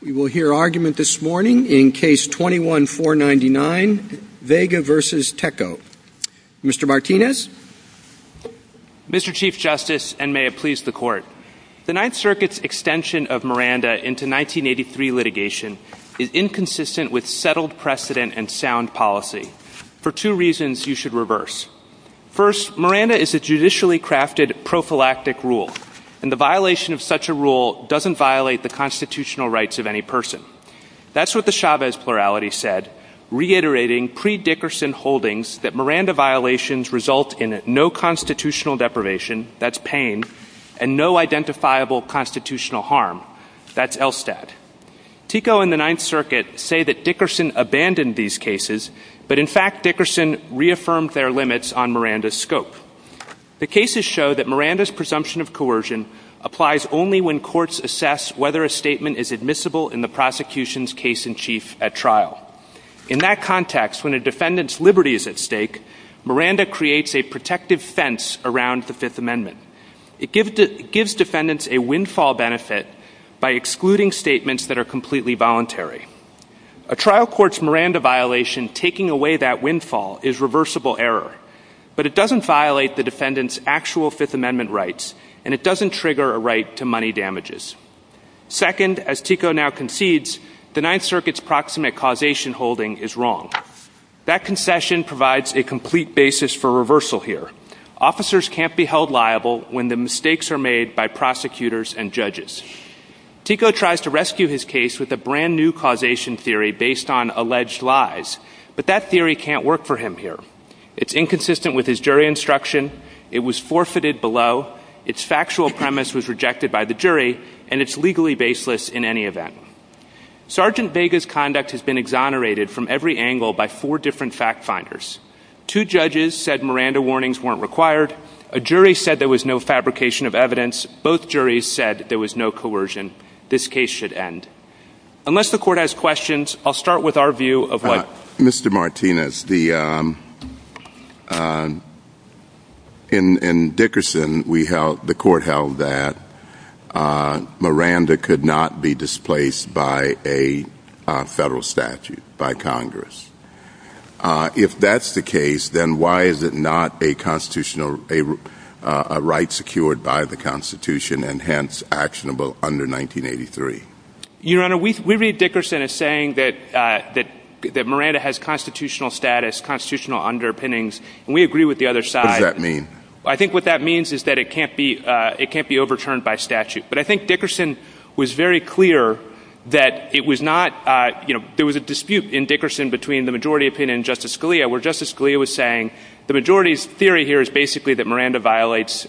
We will hear argument this morning in Case 21-499, Vega v. Tekoh. Mr. Martinez? Mr. Chief Justice, and may it please the Court, the Ninth Circuit's extension of Miranda into 1983 litigation is inconsistent with settled precedent and sound policy for two reasons you should reverse. First, Miranda is a judicially crafted prophylactic rule, and the violation of such a rule doesn't violate the constitutional rights of any person. That's what the Chavez plurality said, reiterating pre-Dickerson holdings that Miranda violations result in no constitutional deprivation, that's Payne, and no identifiable constitutional harm, that's Elstadt. Tekoh and the Ninth Circuit say that Dickerson abandoned these cases, but in fact Dickerson reaffirmed their limits on Miranda's scope. The cases show that Miranda's presumption of coercion applies only when courts assess whether a statement is admissible in the prosecution's case-in-chief at trial. In that context, when a defendant's liberty is at stake, Miranda creates a protective fence around the Fifth Amendment. It gives defendants a windfall benefit by excluding statements that are completely voluntary. A trial court's Miranda violation taking away that windfall is reversible error, but it doesn't violate the defendant's actual Fifth Amendment rights, and it doesn't trigger a right to money damages. Second, as Tekoh now concedes, the Ninth Circuit's proximate causation holding is wrong. That concession provides a complete basis for reversal here. Officers can't be held liable when the mistakes are made by prosecutors and judges. Tekoh tries to rescue his case with a brand new causation theory based on alleged lies, but that theory can't work for him here. It's inconsistent with his jury instruction, it was forfeited below, its factual premise was rejected by the jury, and it's legally baseless in any event. Sergeant Vega's conduct has been exonerated from every angle by four different fact-finders. Two judges said Miranda warnings weren't required. A jury said there was no fabrication of evidence. Both juries said there was no coercion. This case should end. Unless the court has questions, I'll start with our view of what- Mr. Martinez, in Dickerson, the court held that Miranda could not be displaced by a federal statute, by Congress. If that's the case, then why is it not a constitutional-a right secured by the Constitution and hence actionable under 1983? Your Honor, we read Dickerson as saying that Miranda has constitutional status, constitutional underpinnings, and we agree with the other side. What does that mean? I think what that means is that it can't be overturned by statute. But I think Dickerson was very clear that it was not, you know, there was a dispute in Dickerson between the majority opinion and Justice Scalia, where Justice Scalia was saying the majority's theory here is basically that a Miranda violation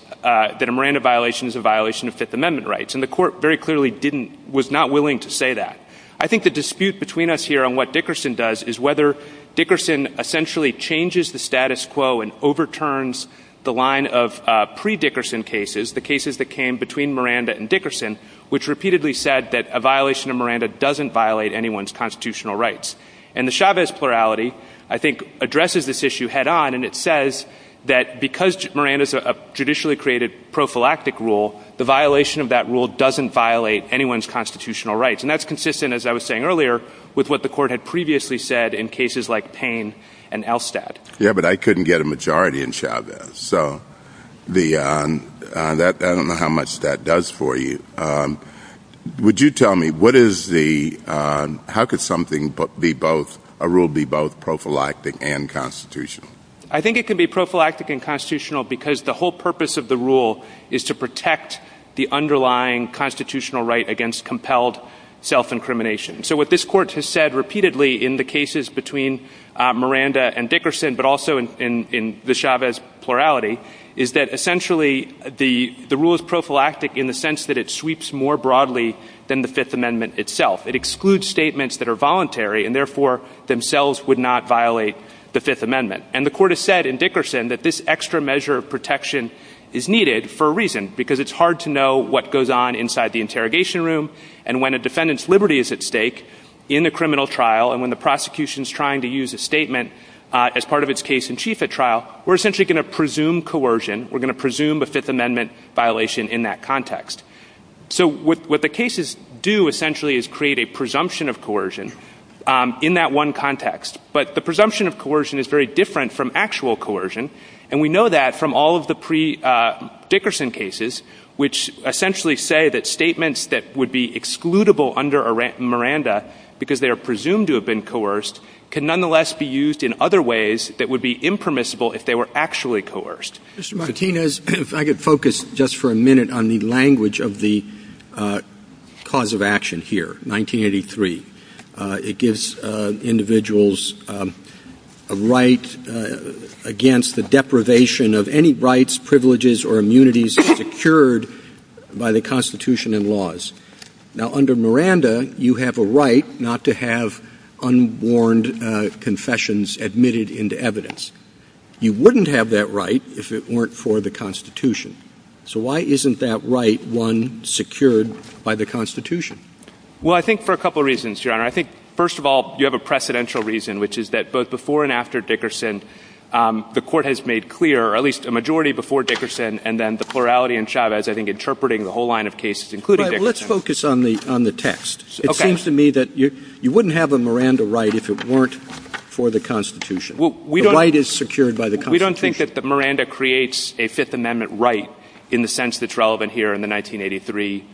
is a violation of Fifth Amendment rights. And the court very clearly didn't-was not willing to say that. I think the dispute between us here and what Dickerson does is whether Dickerson essentially changes the status quo and overturns the line of pre-Dickerson cases, the cases that came between Miranda and Dickerson, which repeatedly said that a violation of Miranda doesn't violate anyone's constitutional rights. And the Chavez plurality, I think, addresses this issue head-on, and it says that because Miranda's a judicially created prophylactic rule, the violation of that rule doesn't violate anyone's constitutional rights. And that's consistent, as I was saying earlier, with what the court had previously said in cases like Payne and Elstad. Yeah, but I couldn't get a majority in Chavez, so the-I don't know how much that does for you. Would you tell me what is the-how could something be both-a rule be both prophylactic and constitutional? I think it could be prophylactic and constitutional because the whole purpose of the rule is to protect the underlying constitutional right against compelled self-incrimination. So what this court has said repeatedly in the cases between Miranda and Dickerson, but also in the Chavez plurality, is that essentially the rule is prophylactic in the sense that it sweeps more broadly than the Fifth Amendment itself. It excludes statements that are voluntary and therefore themselves would not violate the Fifth Amendment. And the court has said in Dickerson that this extra measure of protection is needed for a reason, because it's hard to know what goes on inside the interrogation room and when a defendant's liberty is at stake in the criminal trial, and when the prosecution's trying to use a statement as part of its case in chief at trial, we're essentially going to presume coercion. We're going to presume a Fifth Amendment violation in that context. So what the cases do essentially is create a presumption of coercion in that one context. But the presumption of coercion is very different from actual coercion, and we know that from all of the pre-Dickerson cases, which essentially say that statements that would be excludable under Miranda because they are presumed to have been coerced can nonetheless be used in other ways that would be impermissible if they were actually coerced. Mr. Martinez, if I could focus just for a minute on the language of the cause of action here, 1983. It gives individuals a right against the deprivation of any rights, privileges, or immunities secured by the Constitution and laws. Now, under Miranda, you have a right not to have unwarned confessions admitted into evidence. You wouldn't have that right if it weren't for the Constitution. So why isn't that right one secured by the Constitution? Well, I think for a couple of reasons, Your Honor. I think, first of all, you have a precedential reason, which is that both before and after Dickerson, the Court has made clear, or at least a majority before Dickerson, and then the plurality in Chavez, I think, interpreting the whole line of cases including Dickerson. Let's focus on the text. It seems to me that you wouldn't have a Miranda right if it weren't for the Constitution. The right is secured by the Constitution. We don't think that Miranda creates a Fifth Amendment right in the sense that it's relevant here in the 1983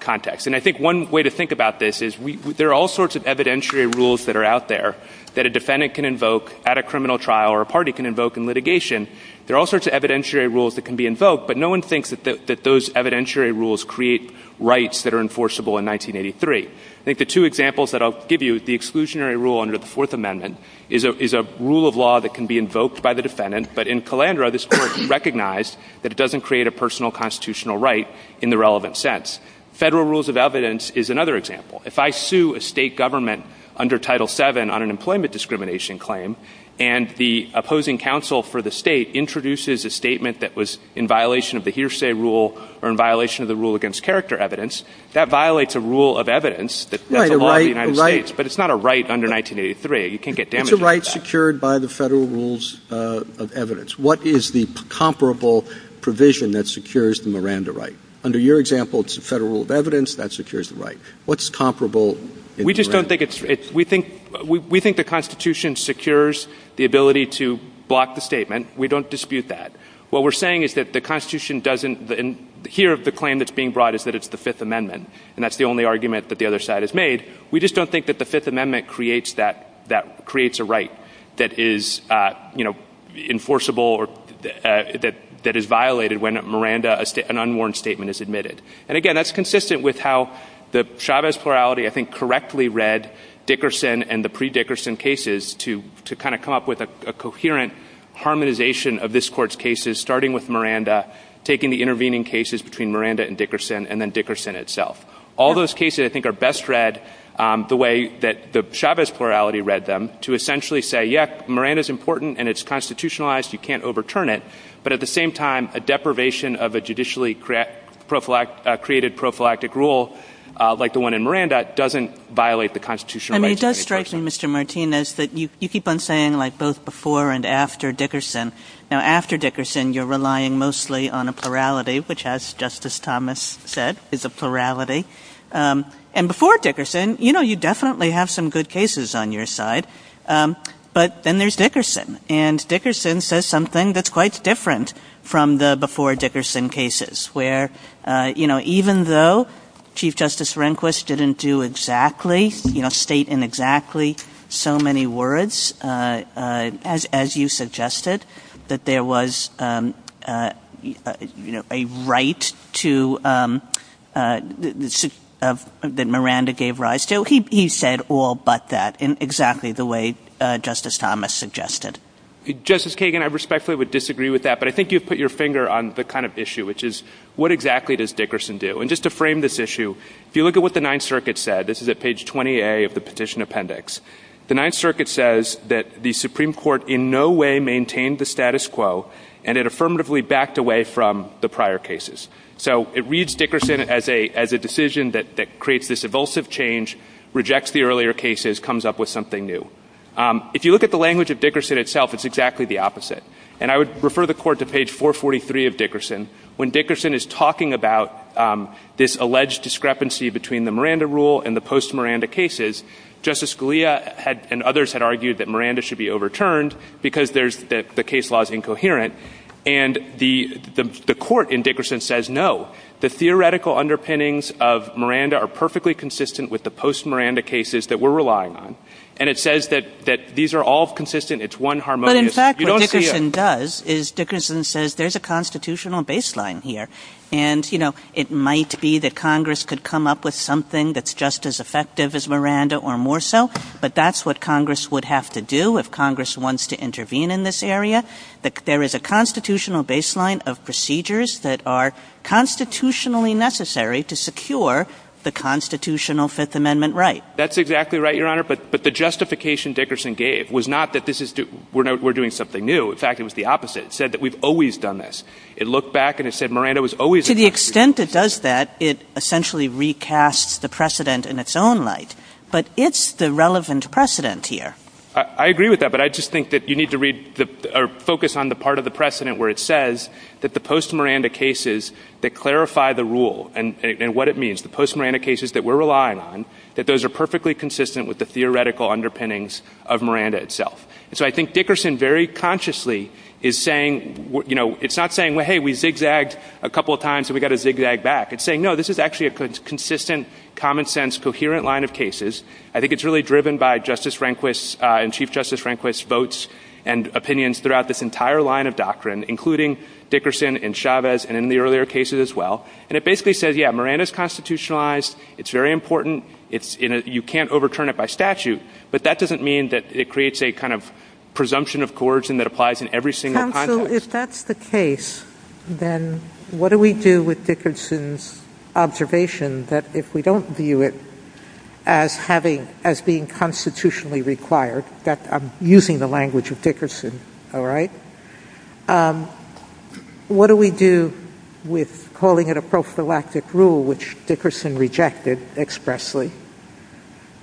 context. And I think one way to think about this is there are all sorts of evidentiary rules that are out there that a defendant can invoke at a criminal trial or a party can invoke in litigation. There are all sorts of evidentiary rules that can be invoked, but no one thinks that those evidentiary rules create rights that are enforceable in 1983. I think the two examples that I'll give you, the exclusionary rule under the Fourth Amendment, is a rule of law that can be invoked by the defendant, but in Calandra this Court has recognized that it doesn't create a personal constitutional right in the relevant sense. Federal rules of evidence is another example. If I sue a state government under Title VII on an employment discrimination claim and the opposing counsel for the state introduces a statement that was in violation of the hearsay rule or in violation of the rule against character evidence, that violates a rule of evidence that's a law of the United States, but it's not a right under 1983. It's a right secured by the federal rules of evidence. What is the comparable provision that secures the Miranda right? Under your example, it's a federal rule of evidence that secures the right. What's comparable? We think the Constitution secures the ability to block the statement. We don't dispute that. What we're saying is that the Constitution doesn't and here the claim that's being brought is that it's the Fifth Amendment and that's the only argument that the other side has made. We just don't think that the Fifth Amendment creates a right that is enforceable or that is violated when an unwarranted statement is admitted. And again, that's consistent with how the Chavez plurality I think correctly read Dickerson and the pre-Dickerson cases to kind of come up with a coherent harmonization of this court's cases starting with Miranda, taking the intervening cases between Miranda and Dickerson and then Dickerson itself. All those cases I think are best read the way that the Chavez plurality read them to essentially say, yes, Miranda's important and it's constitutionalized, you can't overturn it, but at the same time a deprivation of a judicially created prophylactic rule like the one in Miranda doesn't violate the Constitution. And it does strike me, Mr. Martinez, that you keep on saying like both before and after Dickerson. Now after Dickerson you're relying mostly on a plurality which as Justice Thomas said is a plurality and before Dickerson, you know, you definitely have some good cases on your side but then there's Dickerson and Dickerson says something that's quite different from the before Dickerson cases where, you know, even though Chief Justice Rehnquist didn't do exactly, you know, state in exactly so many words as you suggested that there was, you know, a right to, that Miranda gave rise to. So he said all but that in exactly the way Justice Thomas suggested. Justice Kagan, I respectfully would disagree with that but I think you've put your finger on the kind of issue which is what exactly does Dickerson do? And just to frame this issue, if you look at what the Ninth Circuit said, this is at page 20A of the petition appendix. The Ninth Circuit says that the Supreme Court in no way maintained the status quo and it affirmatively backed away from the prior cases. So it reads Dickerson as a decision that creates this evulsive change, rejects the earlier cases, comes up with something new. If you look at the language of Dickerson itself, it's exactly the opposite. And I would refer the court to page 443 of Dickerson. When Dickerson is talking about this alleged discrepancy between the Miranda rule and the post-Miranda cases, Justice Scalia and others had argued that Miranda should be overturned because the case law is incoherent and the court in Dickerson says no. The theoretical underpinnings of Miranda are perfectly consistent with the post-Miranda cases that we're relying on. And it says that these are all consistent, it's one harmonious. But in fact what Dickerson does is Dickerson says there's a constitutional baseline here and it might be that Congress could come up with something that's just as effective as Miranda or more so, but that's what Congress would have to do if Congress wants to intervene in this area. There is a constitutional baseline of procedures that are constitutionally necessary to secure the constitutional Fifth Amendment right. That's exactly right, Your Honor, but the justification Dickerson gave was not that we're doing something new. In fact, it was the opposite. It said that we've always done this. It looked back and it said Miranda was always... To the extent it does that, it essentially recasts the precedent in its own light. But it's the relevant precedent here. I agree with that, but I just think that you need to read or focus on the part of the precedent where it says that the post-Miranda cases that clarify the rule and what it means, the post-Miranda cases that we're relying on, that those are perfectly consistent with the theoretical underpinnings of Miranda itself. And so I think Dickerson very consciously is saying, you know, it's not saying, well, hey, we zigzagged a couple of times and we've got to zigzag back. It's saying, no, this is actually a consistent, common sense, coherent line of cases. I think it's really driven by Justice Rehnquist and Chief Justice Rehnquist's votes and opinions throughout this entire line of doctrine, including Dickerson and Chavez and in the earlier cases as well. And it basically says, yeah, Miranda's constitutionalized. It's very important. You can't overturn it by statute, but that doesn't mean that it creates a kind of presumption of coercion that applies in every single context. So if that's the case, then what do we do with Dickerson's observation that if we don't view it as being constitutionally required, that I'm using the language of Dickerson, all right, what do we do with calling it a prophylactic rule, which Dickerson rejected expressly?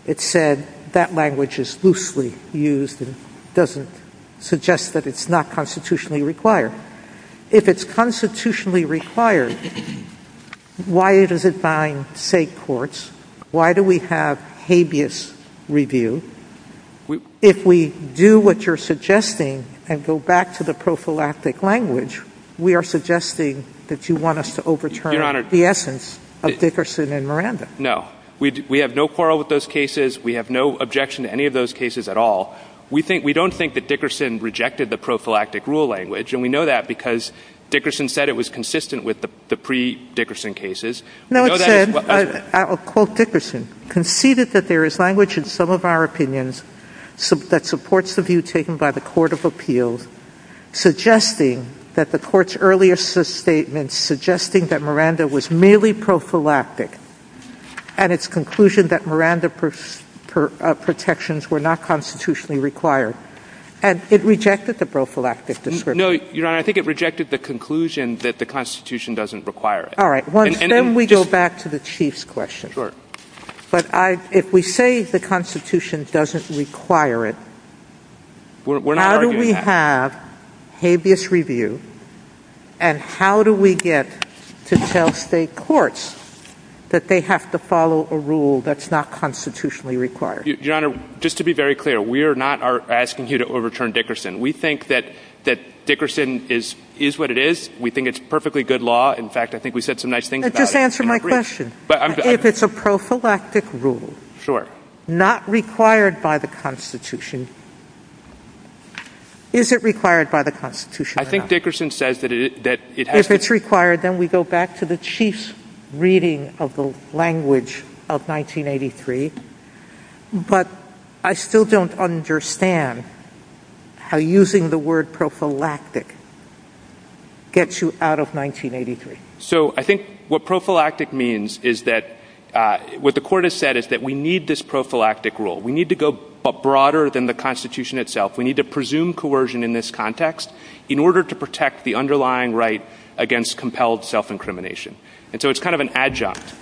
It said that language is loosely used and doesn't suggest that it's not constitutionally required. If it's constitutionally required, why does it bind state courts? Why do we have habeas review? If we do what you're suggesting and go back to the prophylactic language, we are suggesting that you want us to overturn the essence of Dickerson and Miranda. No, we have no quarrel with those cases. We have no objection to any of those cases at all. We don't think that Dickerson rejected the prophylactic rule language, and we know that because Dickerson said it was consistent with the pre-Dickerson cases. I'll quote Dickerson. Conceded that there is language in some of our opinions that supports the view taken by the Court of Appeals, suggesting that the Court's earlier statement suggesting that Miranda was merely prophylactic and its conclusion that Miranda protections were not constitutionally required, and it rejected the prophylactic description. No, Your Honor, I think it rejected the conclusion that the Constitution doesn't require it. All right. Then we go back to the Chief's question. But if we say the Constitution doesn't require it, how do we have habeas review, and how do we get to tell state courts that they have to follow a rule that's not constitutionally required? Your Honor, just to be very clear, we are not asking you to overturn Dickerson. We think that Dickerson is what it is. We think it's perfectly good law. In fact, I think we said some nice things about it. Just answer my question. If it's a prophylactic rule, not required by the Constitution, is it required by the Constitution? I think Dickerson says that it has to be. If it's required, then we go back to the Chief's reading of the language of 1983. But I still don't understand how using the word prophylactic gets you out of 1983. So I think what prophylactic means is that what the court has said is that we need this prophylactic rule. We need to go broader than the Constitution itself. We need to presume coercion in this context in order to protect the underlying right against compelled self-incrimination. And so it's kind of an adjunct.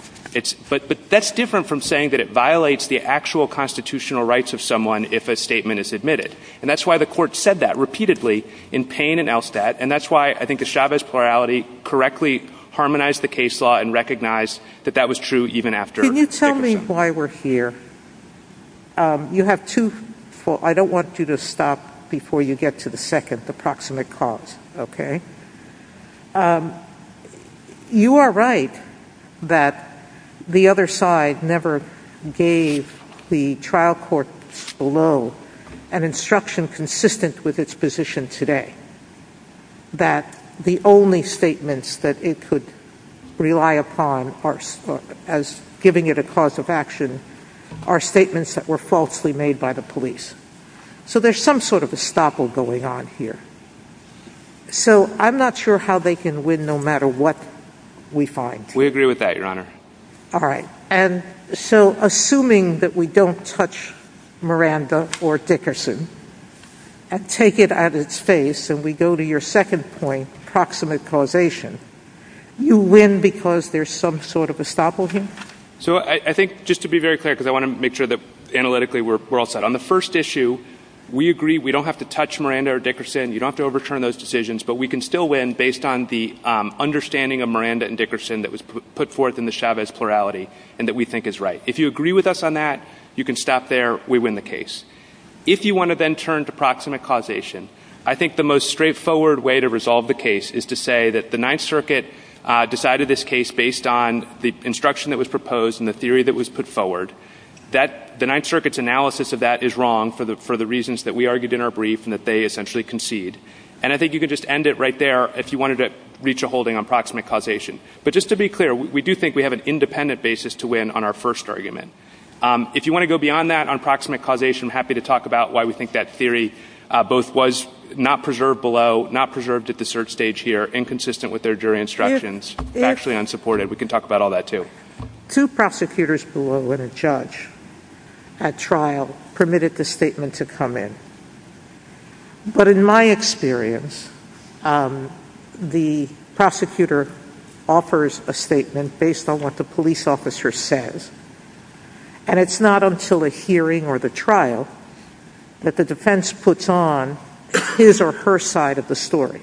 But that's different from saying that it violates the actual constitutional rights of someone if a statement is admitted. And that's why the court said that repeatedly in Payne and Elstad. And that's why I think the Chavez plurality correctly harmonized the case law and recognized that that was true even after Dickerson. Can you tell me why we're here? You have two-I don't want you to stop before you get to the second, the proximate cause. Okay? You are right that the other side never gave the trial court below an instruction consistent with its position today. That the only statements that it could rely upon as giving it a cause of action are statements that were falsely made by the police. So there's some sort of estoppel going on here. So I'm not sure how they can win no matter what we find. We agree with that, Your Honor. All right. And so assuming that we don't touch Miranda or Dickerson and take it at its face and we go to your second point, proximate causation, you win because there's some sort of estoppel here? So I think just to be very clear because I want to make sure that analytically we're all set. On the first issue, we agree we don't have to touch Miranda or Dickerson. You don't have to overturn those decisions. But we can still win based on the understanding of Miranda and Dickerson that was put forth in the Chavez plurality and that we think is right. If you agree with us on that, you can stop there. We win the case. If you want to then turn to proximate causation, I think the most straightforward way to resolve the case is to say that the Ninth Circuit decided this case based on the instruction that was proposed and the theory that was put forward. The Ninth Circuit's analysis of that is wrong for the reasons that we argued in our brief and that they essentially concede. And I think you could just end it right there if you wanted to reach a holding on proximate causation. But just to be clear, we do think we have an independent basis to win on our first argument. If you want to go beyond that on proximate causation, I'm happy to talk about why we think that theory both was not preserved below, not preserved at the search stage here, inconsistent with their jury instructions, actually unsupported. We can talk about all that, too. Two prosecutors below and a judge at trial permitted the statement to come in. But in my experience, the prosecutor offers a statement based on what the police officer says. And it's not until a hearing or the trial that the defense puts on his or her side of the story.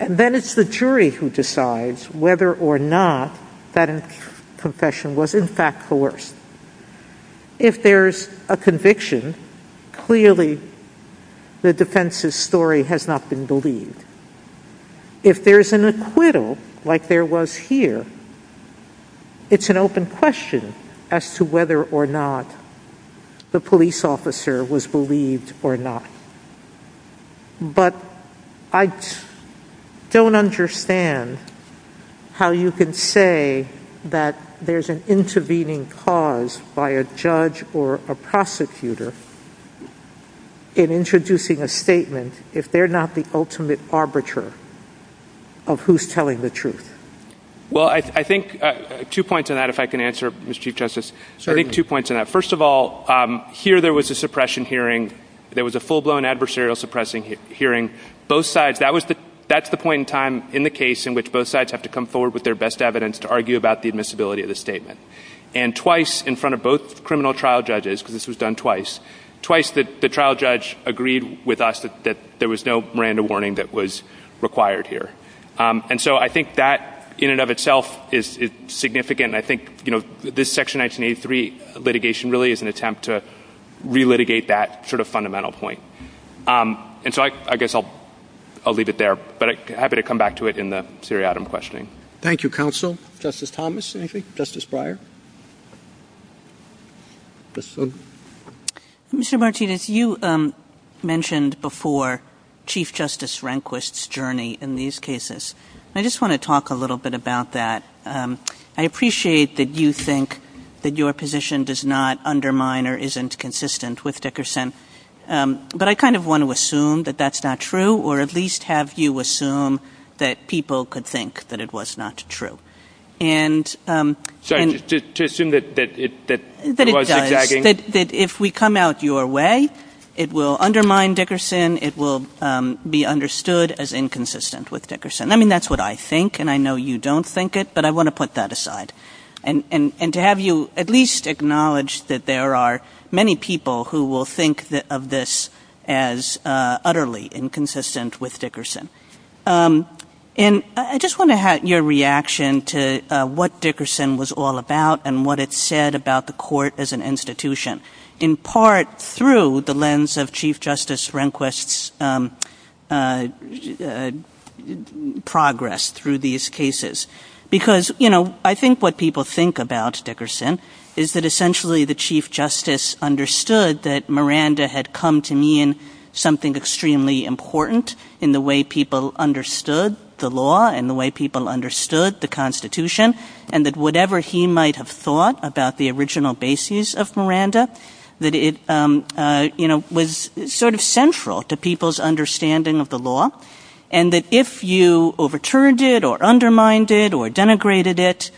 And then it's the jury who decides whether or not that confession was in fact coerced. If there's a conviction, clearly the defense's story has not been believed. If there's an acquittal, like there was here, it's an open question as to whether or not the police officer was believed or not. But I don't understand how you can say that there's an intervening cause by a judge or a prosecutor in introducing a statement if they're not the ultimate arbiter of who's telling the truth. Well, I think two points on that, if I can answer, Mr. Chief Justice. First of all, here there was a suppression hearing. There was a full-blown adversarial suppressing hearing. That's the point in time in the case in which both sides have to come forward with their best evidence to argue about the admissibility of the statement. And twice in front of both criminal trial judges, because this was done twice, twice the trial judge agreed with us that there was no Miranda warning that was required here. And so I think that in and of itself is significant. And I think this Section 1983 litigation really is an attempt to re-litigate that sort of fundamental point. And so I guess I'll leave it there. But I'm happy to come back to it in the seriatim questioning. Thank you, counsel. Justice Thomas. Justice Breyer. Mr. Martinez, you mentioned before Chief Justice Rehnquist's journey in these cases. I just want to talk a little bit about that. I appreciate that you think that your position does not undermine or isn't consistent with Dickerson. But I kind of want to assume that that's not true, or at least have you assume that people could think that it was not true. Sorry, to assume that it was? That it does. That if we come out your way, it will undermine Dickerson. It will be understood as inconsistent with Dickerson. I mean, that's what I think, and I know you don't think it, but I want to put that aside. And to have you at least acknowledge that there are many people who will think of this as utterly inconsistent with Dickerson. And I just want to have your reaction to what Dickerson was all about and what it said about the court as an institution. In part through the lens of Chief Justice Rehnquist's progress through these cases. Because, you know, I think what people think about Dickerson is that essentially the Chief Justice understood that Miranda had come to mean something extremely important in the way people understood the law and the way people understood the Constitution. And that whatever he might have thought about the original bases of Miranda, that it was sort of central to people's understanding of the law. And that if you overturned it or undermined it or denigrated it,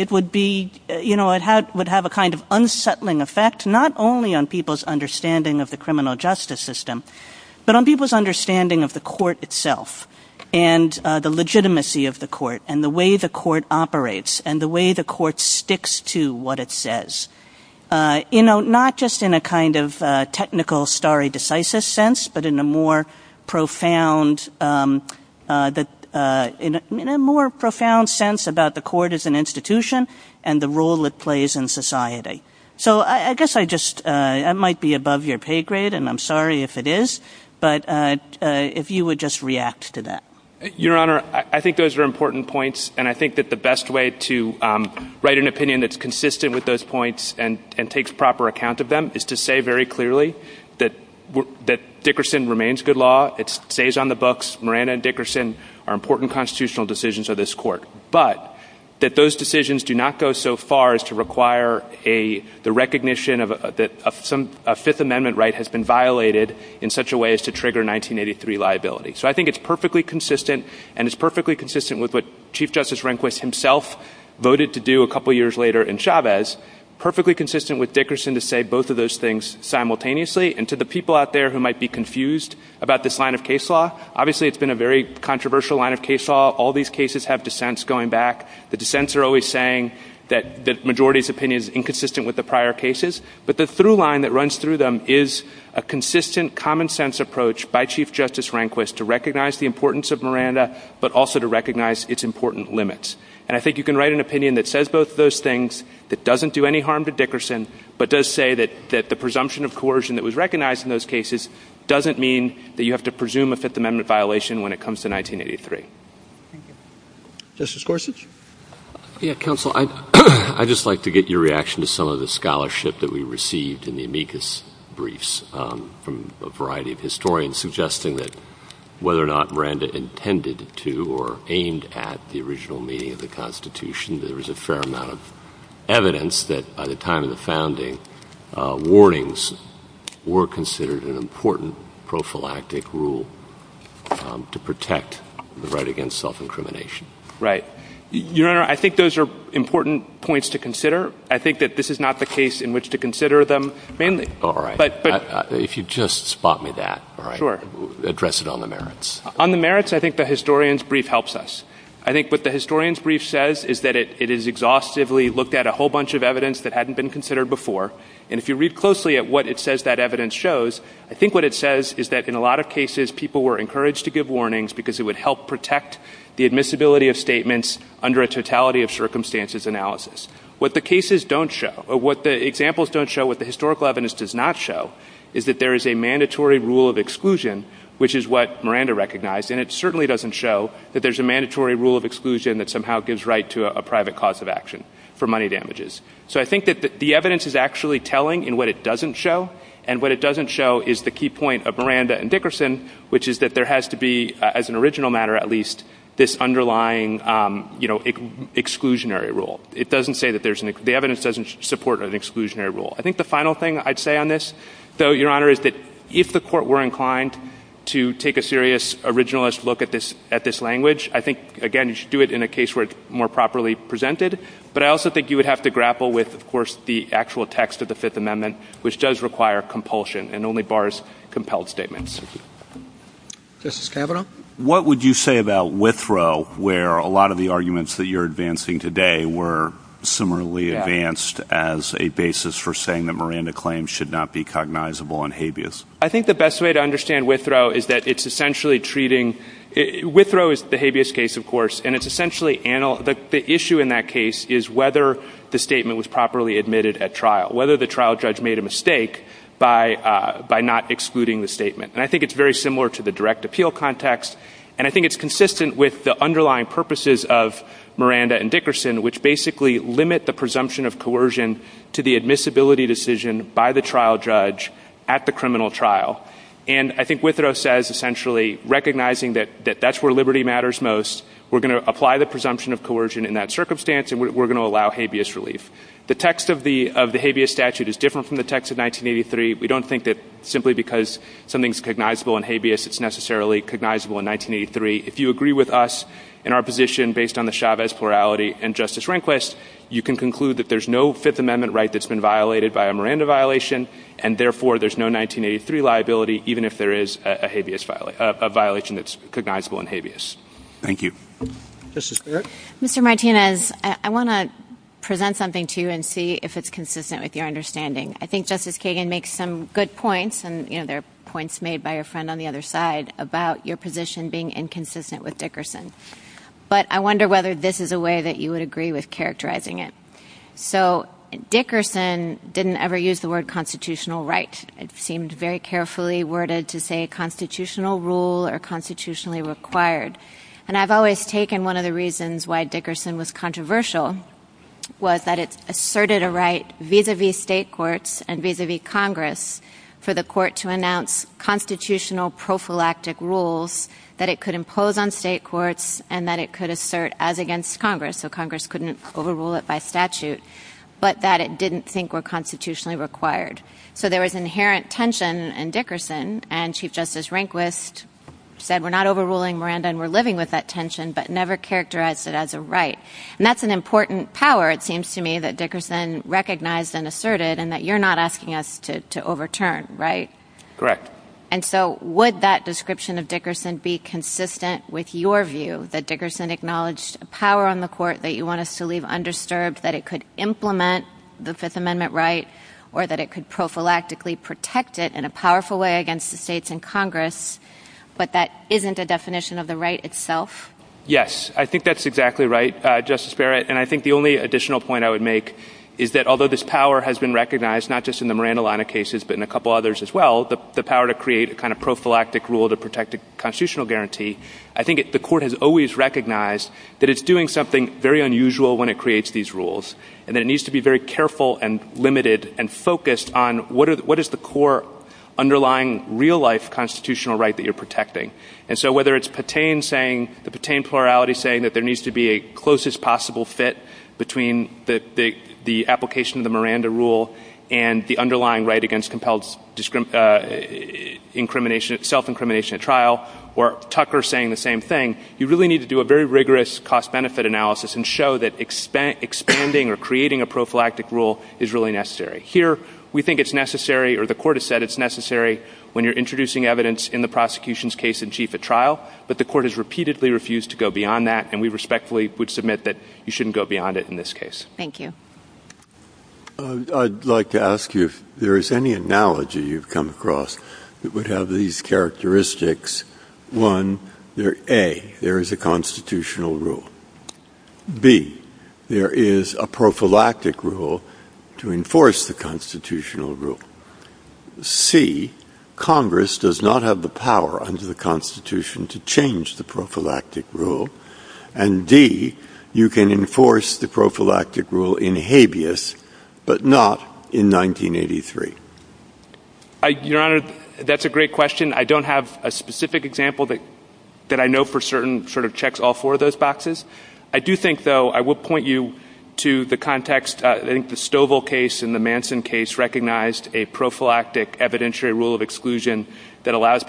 it would have a kind of unsettling effect, not only on people's understanding of the criminal justice system, but on people's understanding of the court itself and the legitimacy of the court and the way the court operates and the way the court sticks to what it says. You know, not just in a kind of technical stare decisis sense, but in a more profound sense about the court as an institution and the role it plays in society. So I guess I might be above your pay grade and I'm sorry if it is, but if you would just react to that. Your Honor, I think those are important points and I think that the best way to write an opinion that's consistent with those points and takes proper account of them is to say very clearly that Dickerson remains good law. It stays on the books. Miranda and Dickerson are important constitutional decisions of this court. But that those decisions do not go so far as to require the recognition that a Fifth Amendment right has been violated in such a way as to trigger 1983 liability. So I think it's perfectly consistent and it's perfectly consistent with what Chief Justice Rehnquist himself voted to do a couple years later in Chavez. Perfectly consistent with Dickerson to say both of those things simultaneously and to the people out there who might be confused about this line of case law. Obviously, it's been a very controversial line of case law. All these cases have dissents going back. The dissents are always saying that the majority's opinion is inconsistent with the prior cases. But the through line that runs through them is a consistent common sense approach by Chief Justice Rehnquist to recognize the importance of Miranda, but also to recognize its important limits. And I think you can write an opinion that says both of those things, that doesn't do any harm to Dickerson, but does say that the presumption of coercion that was recognized in those cases doesn't mean that you have to presume a Fifth Amendment violation when it comes to 1983. Justice Gorsuch? Counsel, I'd just like to get your reaction to some of the scholarship that we received in the amicus briefs from a variety of historians suggesting that whether or not Miranda intended to or aimed at the original meaning of the Constitution, there was a fair amount of evidence that by the time of the founding, warnings were considered an important prophylactic rule to protect the right against self-incrimination. Right. Your Honor, I think those are important points to consider. I think that this is not the case in which to consider them mainly. All right. If you'd just spot me that. Sure. Address it on the merits. On the merits, I think the historian's brief helps us. I think what the historian's brief says is that it is exhaustively looked at a whole bunch of evidence that hadn't been considered before. And if you read closely at what it says that evidence shows, I think what it says is that in a lot of cases, people were encouraged to give warnings because it would help protect the admissibility of statements under a totality of circumstances analysis. What the cases don't show, or what the examples don't show, what the historical evidence does not show, is that there is a mandatory rule of exclusion, which is what Miranda recognized. And it certainly doesn't show that there's a mandatory rule of exclusion that somehow gives right to a private cause of action for money damages. So I think that the evidence is actually telling in what it doesn't show. And what it doesn't show is the key point of Miranda and Dickerson, which is that there has to be, as an original matter at least, this underlying exclusionary rule. The evidence doesn't support an exclusionary rule. I think the final thing I'd say on this, though, Your Honor, is that if the Court were inclined to take a serious originalist look at this language, I think, again, you should do it in a case where it's more properly presented. But I also think you would have to grapple with, of course, the actual text of the Fifth Amendment, which does require compulsion and only bars compelled statements. Justice Kavanaugh? What would you say about Withrow, where a lot of the arguments that you're advancing today were similarly advanced as a basis for saying that Miranda claims should not be cognizable and habeas? I think the best way to understand Withrow is that it's essentially treating – Withrow is the habeas case, of course, and it's essentially – the issue in that case is whether the statement was properly admitted at trial, whether the trial judge made a mistake by not excluding the statement. And I think it's very similar to the direct appeal context, and I think it's consistent with the underlying purposes of Miranda and Dickerson, which basically limit the presumption of coercion to the admissibility decision by the trial judge at the criminal trial. And I think Withrow says, essentially, recognizing that that's where liberty matters most, we're going to apply the presumption of coercion in that circumstance, and we're going to allow habeas relief. The text of the habeas statute is different from the text of 1983. We don't think that simply because something's cognizable and habeas, it's necessarily cognizable in 1983. If you agree with us in our position based on the Chavez plurality and Justice Rehnquist, you can conclude that there's no Fifth Amendment right that's been violated by a Miranda violation, and therefore there's no 1983 liability even if there is a habeas – a violation that's cognizable and habeas. Thank you. Justice Barrett? Mr. Martinez, I want to present something to you and see if it's consistent with your understanding. I think Justice Kagan makes some good points, and, you know, there are points made by your friend on the other side about your position being inconsistent with Dickerson. But I wonder whether this is a way that you would agree with characterizing it. So Dickerson didn't ever use the word constitutional right. It seemed very carefully worded to say constitutional rule or constitutionally required. And I've always taken one of the reasons why Dickerson was controversial was that it asserted a right vis-à-vis state courts and vis-à-vis Congress for the court to announce constitutional prophylactic rules that it could impose on state courts and that it could assert as against Congress, so Congress couldn't overrule it by statute, but that it didn't think were constitutionally required. So there was inherent tension in Dickerson, and Chief Justice Rehnquist said, we're not overruling Miranda and we're living with that tension, but never characterized it as a right. And that's an important power, it seems to me, that Dickerson recognized and asserted and that you're not asking us to overturn, right? Correct. And so would that description of Dickerson be consistent with your view that Dickerson acknowledged a power on the court that you want us to leave undisturbed, that it could implement the Fifth Amendment right or that it could prophylactically protect it in a powerful way against the states and Congress, but that isn't a definition of the right itself? Yes, I think that's exactly right, Justice Barrett. And I think the only additional point I would make is that although this power has been recognized, not just in the Miranda-Lana cases, but in a couple others as well, the power to create a kind of prophylactic rule to protect a constitutional guarantee, I think the court has always recognized that it's doing something very unusual when it creates these rules and that it needs to be very careful and limited and focused on what is the core underlying real-life constitutional right that you're protecting. And so whether it's the Petain plurality saying that there needs to be a closest possible fit between the application of the Miranda rule and the underlying right against self-incrimination at trial, or Tucker saying the same thing, you really need to do a very rigorous cost-benefit analysis and show that expanding or creating a prophylactic rule is really necessary. Here, we think it's necessary, or the court has said it's necessary, when you're introducing evidence in the prosecution's case in chief at trial, but the court has repeatedly refused to go beyond that, and we respectfully would submit that you shouldn't go beyond it in this case. Thank you. I'd like to ask you if there is any analogy you've come across that would have these characteristics. One, A, there is a constitutional rule. B, there is a prophylactic rule to enforce the constitutional rule. C, Congress does not have the power under the Constitution to change the prophylactic rule. And D, you can enforce the prophylactic rule in habeas, but not in 1983. Your Honor, that's a great question. I don't have a specific example that I know for certain sort of checks all four of those boxes. I do think, though, I will point you to the context. I think the Stovall case and the Manson case recognized a prophylactic evidentiary rule of exclusion that allows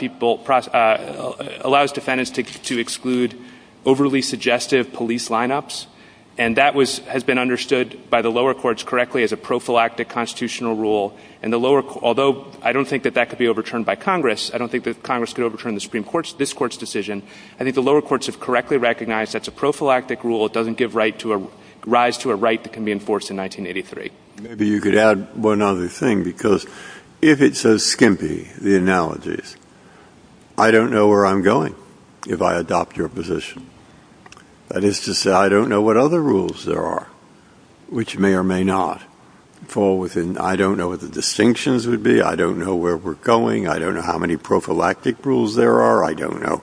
defendants to exclude overly suggestive police lineups, and that has been understood by the lower courts correctly as a prophylactic constitutional rule. Although I don't think that that could be overturned by Congress, I don't think that Congress could overturn this Court's decision, I think the lower courts have correctly recognized that's a prophylactic rule. It doesn't give rise to a right that can be enforced in 1983. Maybe you could add one other thing, because if it's so skimpy, the analogies, I don't know where I'm going if I adopt your position. That is to say, I don't know what other rules there are which may or may not fall within. I don't know what the distinctions would be. I don't know where we're going. I don't know how many prophylactic rules there are. I don't know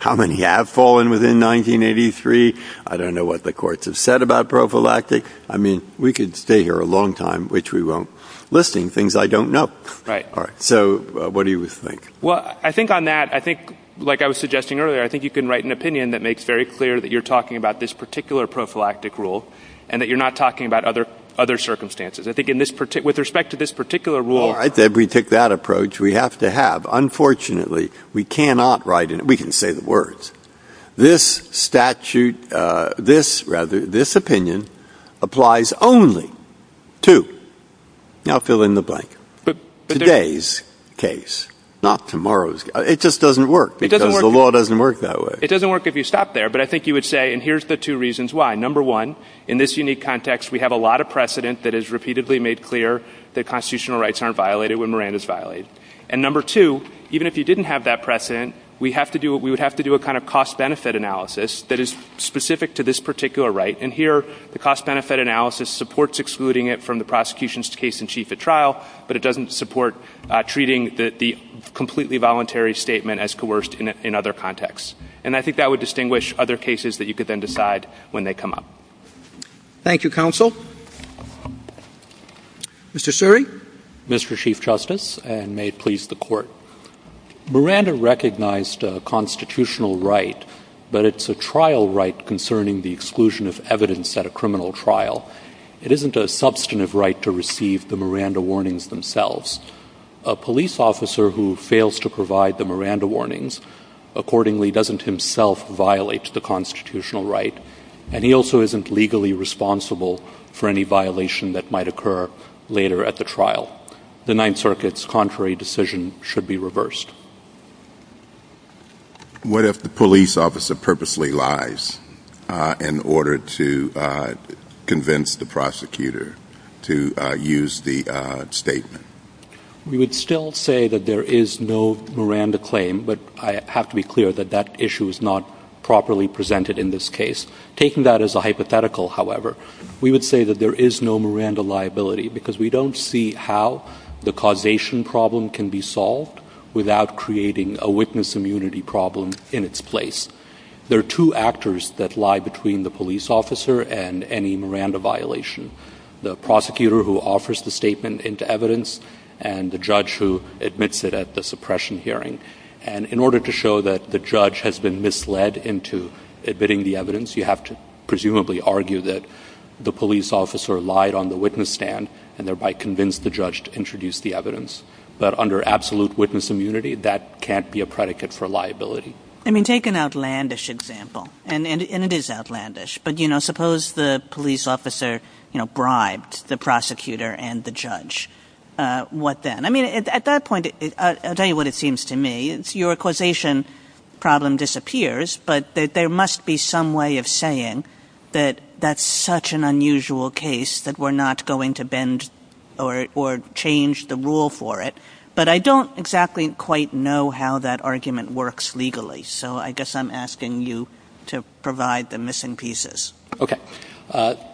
how many have fallen within 1983. I don't know what the courts have said about prophylactic. I mean, we could stay here a long time, which we won't, listing things I don't know. Right. All right. So what do you think? Well, I think on that, I think, like I was suggesting earlier, I think you can write an opinion that makes very clear that you're talking about this particular prophylactic rule and that you're not talking about other circumstances. I think with respect to this particular rule— All right, then, if we take that approach, we have to have. Unfortunately, we cannot write it. We can say the words. This opinion applies only to—now fill in the blank. Today's case, not tomorrow's. It just doesn't work because the law doesn't work that way. It doesn't work if you stop there. But I think you would say, and here's the two reasons why. Number one, in this unique context, we have a lot of precedent that is repeatedly made clear that constitutional rights aren't violated when Miranda's violated. And number two, even if you didn't have that precedent, we would have to do a kind of cost-benefit analysis that is specific to this particular right. And here, the cost-benefit analysis supports excluding it from the prosecution's case in chief at trial, but it doesn't support treating the completely voluntary statement as coerced in other contexts. And I think that would distinguish other cases that you could then decide when they come up. Thank you, counsel. Mr. Suri. Mr. Chief Justice, and may it please the Court. Miranda recognized a constitutional right, but it's a trial right concerning the exclusion of evidence at a criminal trial. It isn't a substantive right to receive the Miranda warnings themselves. A police officer who fails to provide the Miranda warnings accordingly doesn't himself violate the constitutional right, and he also isn't legally responsible for any violation that might occur later at the trial. The Ninth Circuit's contrary decision should be reversed. What if the police officer purposely lies in order to convince the prosecutor to use the statement? We would still say that there is no Miranda claim, but I have to be clear that that issue is not properly presented in this case. Taking that as a hypothetical, however, we would say that there is no Miranda liability because we don't see how the causation problem can be solved without creating a witness immunity problem in its place. There are two actors that lie between the police officer and any Miranda violation, the prosecutor who offers the statement into evidence and the judge who admits it at the suppression hearing. And in order to show that the judge has been misled into admitting the evidence, you have to presumably argue that the police officer lied on the witness stand and thereby convinced the judge to introduce the evidence, but under absolute witness immunity, that can't be a predicate for liability. I mean, take an outlandish example, and it is outlandish, but suppose the police officer bribed the prosecutor and the judge. What then? I mean, at that point, I'll tell you what it seems to me. Your causation problem disappears, but there must be some way of saying that that's such an unusual case that we're not going to bend or change the rule for it, but I don't exactly quite know how that argument works legally, so I guess I'm asking you to provide the missing pieces. Okay.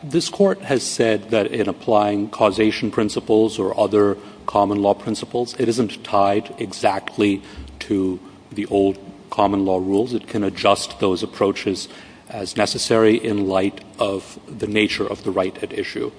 This court has said that in applying causation principles or other common law principles, it isn't tied exactly to the old common law rules. It can adjust those approaches as necessary in light of the nature of the right at issue.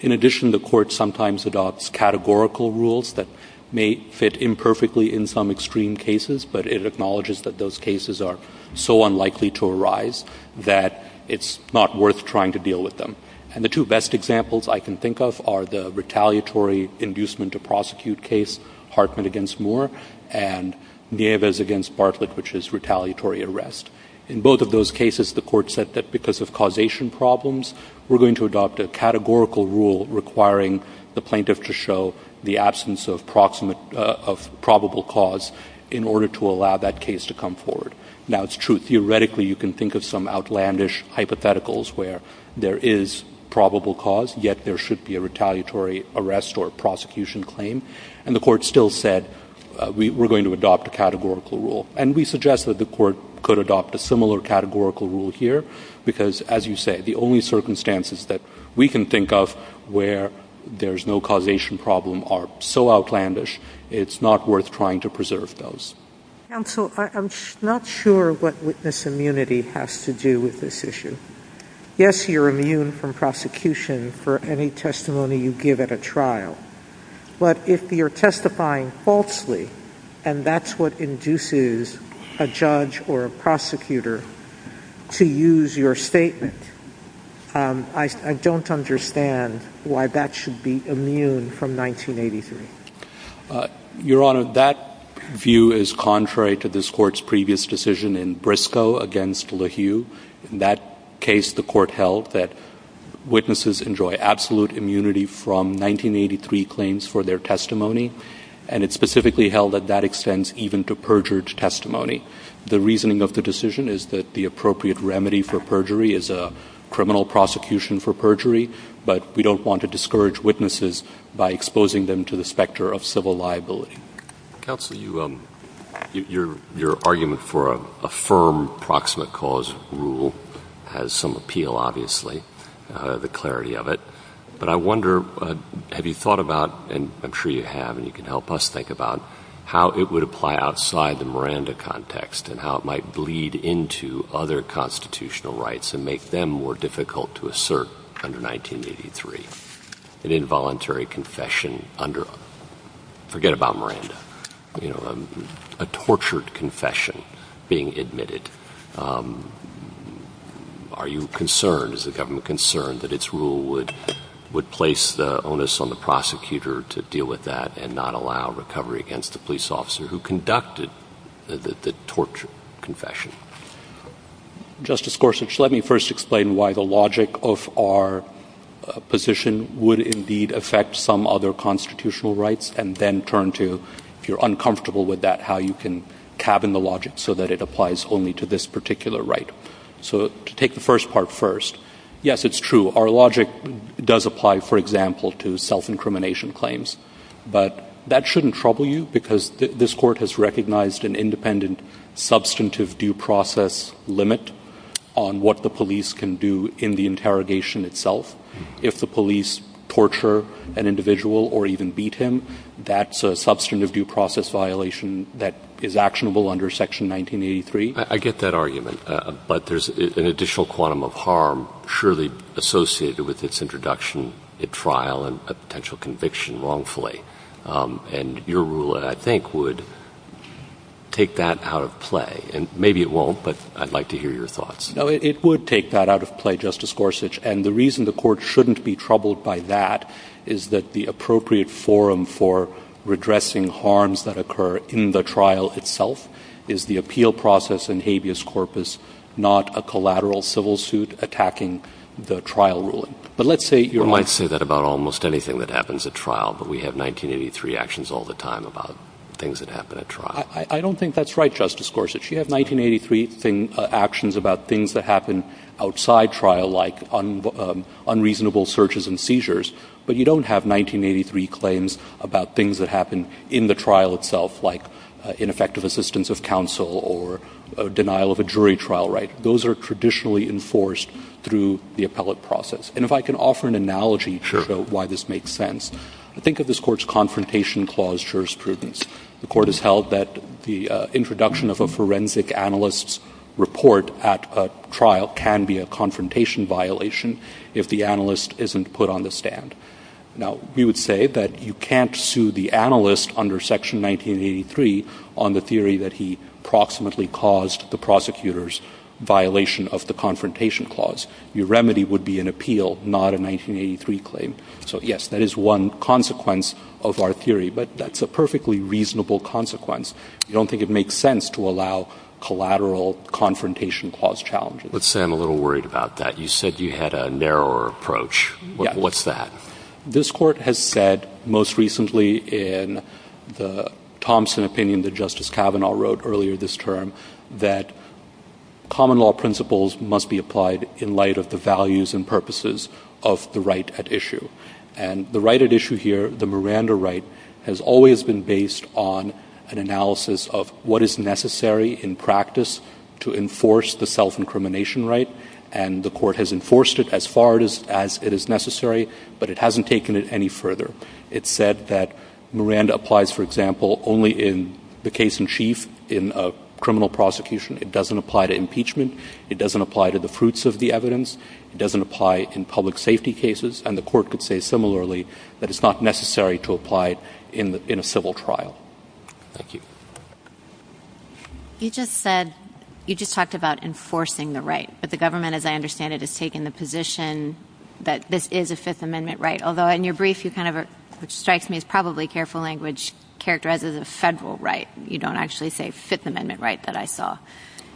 In addition, the court sometimes adopts categorical rules that may fit imperfectly in some extreme cases, but it acknowledges that those cases are so unlikely to arise that it's not worth trying to deal with them. And the two best examples I can think of are the retaliatory inducement to prosecute case, Hartman against Moore, and Nieves against Barclay, which is retaliatory arrest. In both of those cases, the court said that because of causation problems, we're going to adopt a categorical rule requiring the plaintiff to show the absence of probable cause in order to allow that case to come forward. Now, it's true. Theoretically, you can think of some outlandish hypotheticals where there is probable cause, yet there should be a retaliatory arrest or prosecution claim. And the court still said, we're going to adopt a categorical rule. And we suggest that the court could adopt a similar categorical rule here because, as you say, the only circumstances that we can think of where there's no causation problem are so outlandish, it's not worth trying to preserve those. Counsel, I'm not sure what witness immunity has to do with this issue. Yes, you're immune from prosecution for any testimony you give at a trial. But if you're testifying falsely, and that's what induces a judge or a prosecutor to use your statement, I don't understand why that should be immune from 1983. Your Honor, that view is contrary to this Court's previous decision in Briscoe against LaHue. In that case, the Court held that witnesses enjoy absolute immunity from 1983 claims for their testimony, and it specifically held that that extends even to perjured testimony. The reasoning of the decision is that the appropriate remedy for perjury is a criminal prosecution for perjury, but we don't want to discourage witnesses by exposing them to the specter of civil liability. Counsel, your argument for a firm proximate cause rule has some appeal, obviously, the clarity of it. But I wonder, have you thought about, and I'm sure you have and you can help us think about, how it would apply outside the Miranda context and how it might bleed into other constitutional rights and make them more difficult to assert under 1983 an involuntary confession under, forget about Miranda, a tortured confession being admitted. Are you concerned, is the government concerned, that its rule would place the onus on the prosecutor to deal with that and not allow recovery against the police officer who conducted the tortured confession? Justice Gorsuch, let me first explain why the logic of our position would indeed affect some other constitutional rights and then turn to, if you're uncomfortable with that, how you can cabin the logic so that it applies only to this particular right. So to take the first part first, yes, it's true, our logic does apply, for example, to self-incrimination claims. But that shouldn't trouble you because this Court has recognized an independent substantive due process limit on what the police can do in the interrogation itself. If the police torture an individual or even beat him, that's a substantive due process violation that is actionable under Section 1983. I get that argument, but there's an additional quantum of harm surely associated with its introduction at trial and potential conviction wrongfully, and your rule, I think, would take that out of play. And maybe it won't, but I'd like to hear your thoughts. No, it would take that out of play, Justice Gorsuch, and the reason the Court shouldn't be troubled by that is that the appropriate forum for redressing harms that occur in the trial itself is the appeal process and habeas corpus, not a collateral civil suit attacking the trial ruling. We might say that about almost anything that happens at trial, but we have 1983 actions all the time about things that happen at trial. I don't think that's right, Justice Gorsuch. You have 1983 actions about things that happen outside trial, like unreasonable searches and seizures, but you don't have 1983 claims about things that happen in the trial itself, like ineffective assistance of counsel or denial of a jury trial right. Those are traditionally enforced through the appellate process. And if I can offer an analogy to show why this makes sense, think of this Court's Confrontation Clause jurisprudence. The Court has held that the introduction of a forensic analyst's report at a trial can be a confrontation violation if the analyst isn't put on the stand. Now, we would say that you can't sue the analyst under Section 1983 on the theory that he proximately caused the prosecutor's violation of the Confrontation Clause. Your remedy would be an appeal, not a 1983 claim. So, yes, that is one consequence of our theory, but that's a perfectly reasonable consequence. I don't think it makes sense to allow collateral Confrontation Clause challenges. Let's say I'm a little worried about that. You said you had a narrower approach. What's that? This Court has said most recently in the Thompson opinion that Justice Kavanaugh wrote earlier this term that common law principles must be applied in light of the values and purposes of the right at issue. And the right at issue here, the Miranda right, has always been based on an analysis of what is necessary in practice to enforce the self-incrimination right. And the Court has enforced it as far as it is necessary, but it hasn't taken it any further. It said that Miranda applies, for example, only in the case in chief in a criminal prosecution. It doesn't apply to impeachment. It doesn't apply to the fruits of the evidence. It doesn't apply in public safety cases. And the Court could say similarly that it's not necessary to apply it in a civil trial. Thank you. You just talked about enforcing the right, but the government, as I understand it, has taken the position that this is a Fifth Amendment right, although in your brief you kind of, which strikes me as probably careful language, characterized as a federal right. You don't actually say Fifth Amendment right that I saw.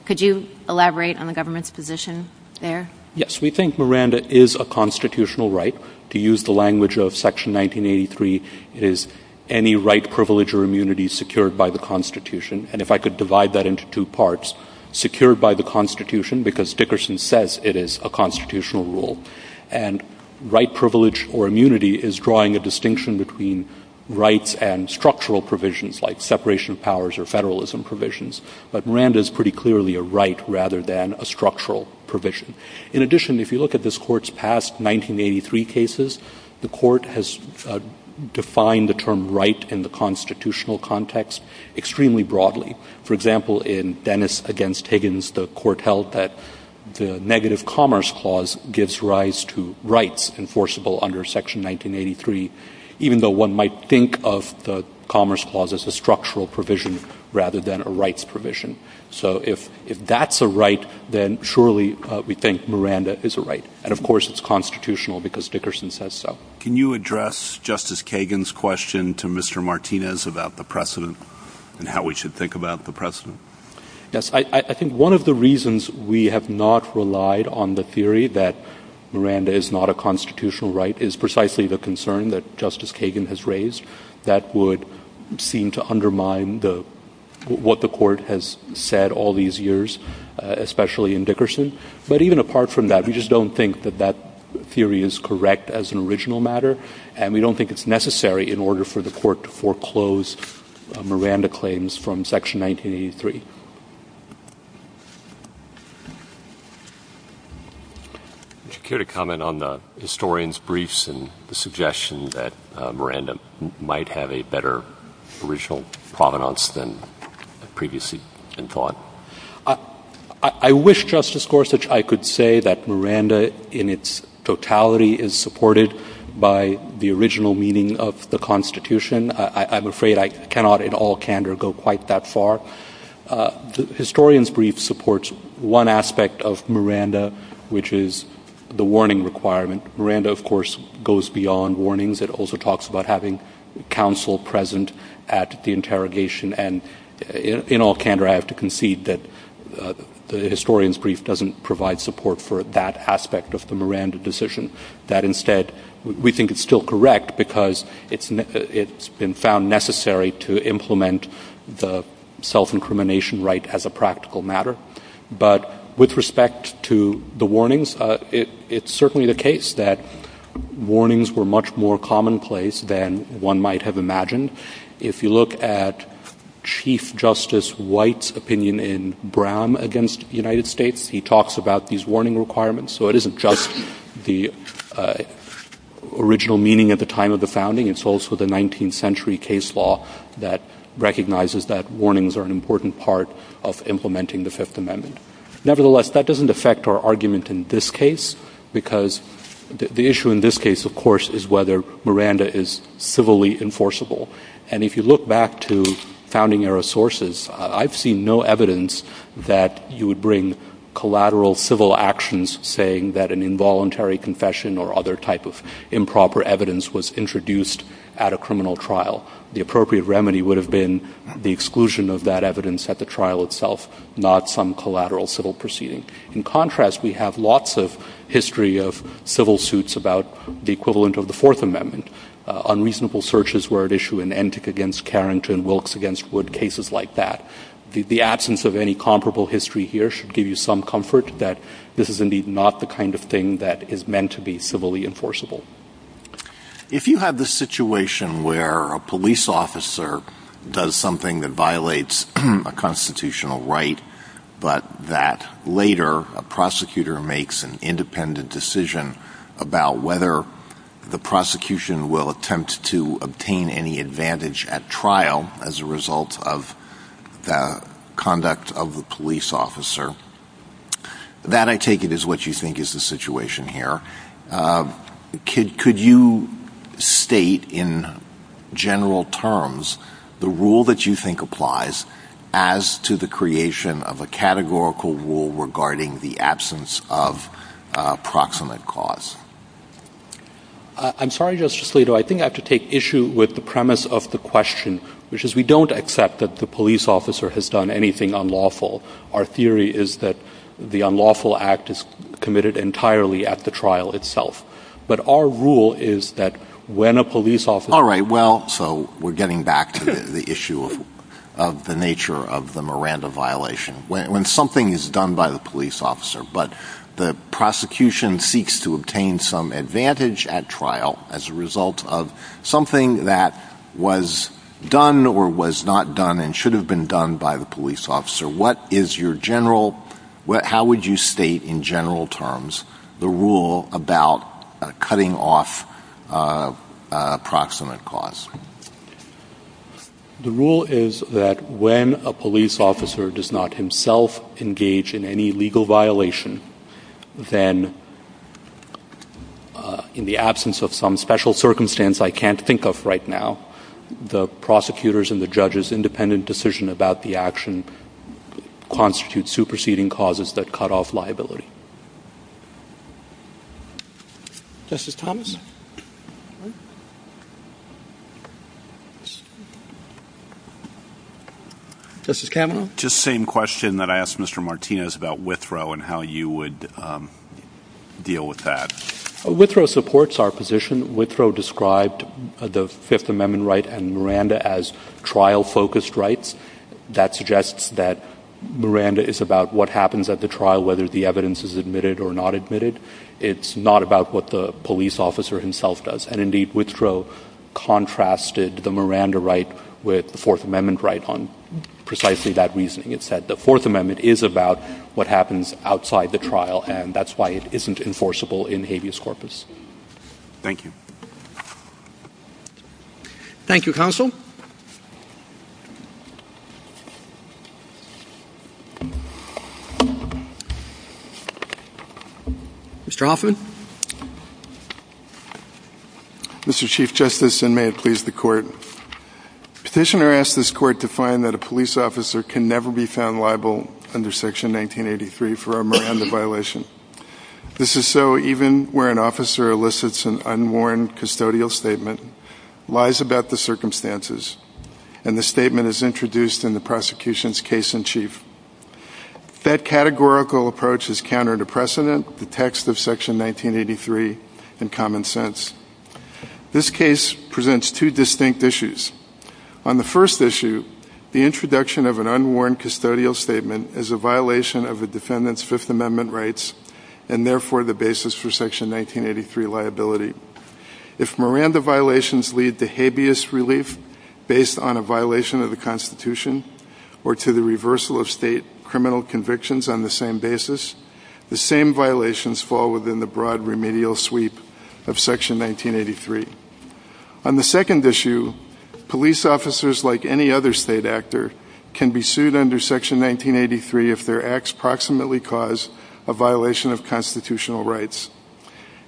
Could you elaborate on the government's position there? Yes. We think Miranda is a constitutional right. To use the language of Section 1983, it is any right, privilege, or immunity secured by the Constitution. And if I could divide that into two parts, secured by the Constitution, because Dickerson says it is a constitutional rule. And right privilege or immunity is drawing a distinction between rights and structural provisions like separation of powers or federalism provisions. But Miranda is pretty clearly a right rather than a structural provision. In addition, if you look at this Court's past 1983 cases, the Court has defined the term right in the constitutional context extremely broadly. For example, in Dennis v. Higgins, the Court held that the negative commerce clause gives rise to rights enforceable under Section 1983, even though one might think of the commerce clause as a structural provision rather than a rights provision. So if that's a right, then surely we think Miranda is a right. And, of course, it's constitutional because Dickerson says so. Can you address Justice Kagan's question to Mr. Martinez about the precedent and how we should think about the precedent? Yes. I think one of the reasons we have not relied on the theory that Miranda is not a constitutional right is precisely the concern that Justice Kagan has raised that would seem to undermine what the Court has said all these years, especially in Dickerson. But even apart from that, we just don't think that that theory is correct as an original matter, and we don't think it's necessary in order for the Court to foreclose Miranda claims from Section 1983. Would you care to comment on the historian's briefs and the suggestion that Miranda might have a better original provenance than previously been taught? I wish, Justice Gorsuch, I could say that Miranda in its totality is supported by the original meaning of the Constitution. I'm afraid I cannot in all candor go quite that far. The historian's brief supports one aspect of Miranda, which is the warning requirement. Miranda, of course, goes beyond warnings. It also talks about having counsel present at the interrogation. And in all candor, I have to concede that the historian's brief doesn't provide support for that aspect of the Miranda decision, that instead we think it's still correct because it's been found necessary to implement the self-incrimination right as a practical matter. But with respect to the warnings, it's certainly the case that warnings were much more commonplace than one might have imagined. If you look at Chief Justice White's opinion in Brown against the United States, he talks about these warning requirements. So it isn't just the original meaning at the time of the founding. It's also the 19th century case law that recognizes that warnings are an important part of implementing the Fifth Amendment. Nevertheless, that doesn't affect our argument in this case, because the issue in this case, of course, is whether Miranda is civilly enforceable. And if you look back to founding-era sources, I've seen no evidence that you would bring collateral civil actions, saying that an involuntary confession or other type of improper evidence was introduced at a criminal trial. The appropriate remedy would have been the exclusion of that evidence at the trial itself, not some collateral civil proceeding. In contrast, we have lots of history of civil suits about the equivalent of the Fourth Amendment. Unreasonable searches were at issue in Entik against Carrington, Wilkes against Wood, cases like that. The absence of any comparable history here should give you some comfort that this is indeed not the kind of thing that is meant to be civilly enforceable. If you have the situation where a police officer does something that violates a constitutional right, but that later a prosecutor makes an independent decision about whether the prosecution will attempt to obtain any advantage at trial as a result of the conduct of the police officer, that, I take it, is what you think is the situation here. Could you state in general terms the rule that you think applies as to the creation of a categorical rule regarding the absence of proximate cause? I'm sorry, Justice Alito, I think I have to take issue with the premise of the question, which is we don't accept that the police officer has done anything unlawful. Our theory is that the unlawful act is committed entirely at the trial itself. But our rule is that when a police officer... Alright, well, so we're getting back to the issue of the nature of the Miranda violation. When something is done by the police officer, but the prosecution seeks to obtain some advantage at trial as a result of something that was done or was not done and should have been done by the police officer, how would you state in general terms the rule about cutting off proximate cause? The rule is that when a police officer does not himself engage in any legal violation, then in the absence of some special circumstance I can't think of right now, the prosecutors and the judges' independent decision about the action constitutes superseding causes that cut off liability. Justice Thomas? Justice Kavanaugh? Just the same question that I asked Mr. Martinez about Withrow and how you would deal with that. Withrow supports our position. Withrow described the Fifth Amendment right and Miranda as trial-focused rights. That suggests that Miranda is about what happens at the trial, whether the evidence is admitted or not admitted. It's not about what the police officer himself does. And indeed Withrow contrasted the Miranda right with the Fourth Amendment right on precisely that reasoning. It said the Fourth Amendment is about what happens outside the trial, and that's why it isn't enforceable in habeas corpus. Thank you. Thank you, Counsel. Mr. Hoffman? Mr. Chief Justice, and may it please the Court, Petitioner asked this Court to find that a police officer can never be found liable under Section 1983 for a Miranda violation. This is so even where an officer elicits an unworn custodial statement, lies about the circumstances, and the statement is introduced in the prosecution's case in chief. That categorical approach is counter to precedent, the text of Section 1983, and common sense. This case presents two distinct issues. On the first issue, the introduction of an unworn custodial statement is a violation of the defendant's Fifth Amendment rights, and therefore the basis for Section 1983 liability. If Miranda violations lead to habeas relief based on a violation of the Constitution or to the reversal of state criminal convictions on the same basis, the same violations fall within the broad remedial sweep of Section 1983. On the second issue, police officers, like any other state actor, can be sued under Section 1983 if their acts proximately cause a violation of constitutional rights.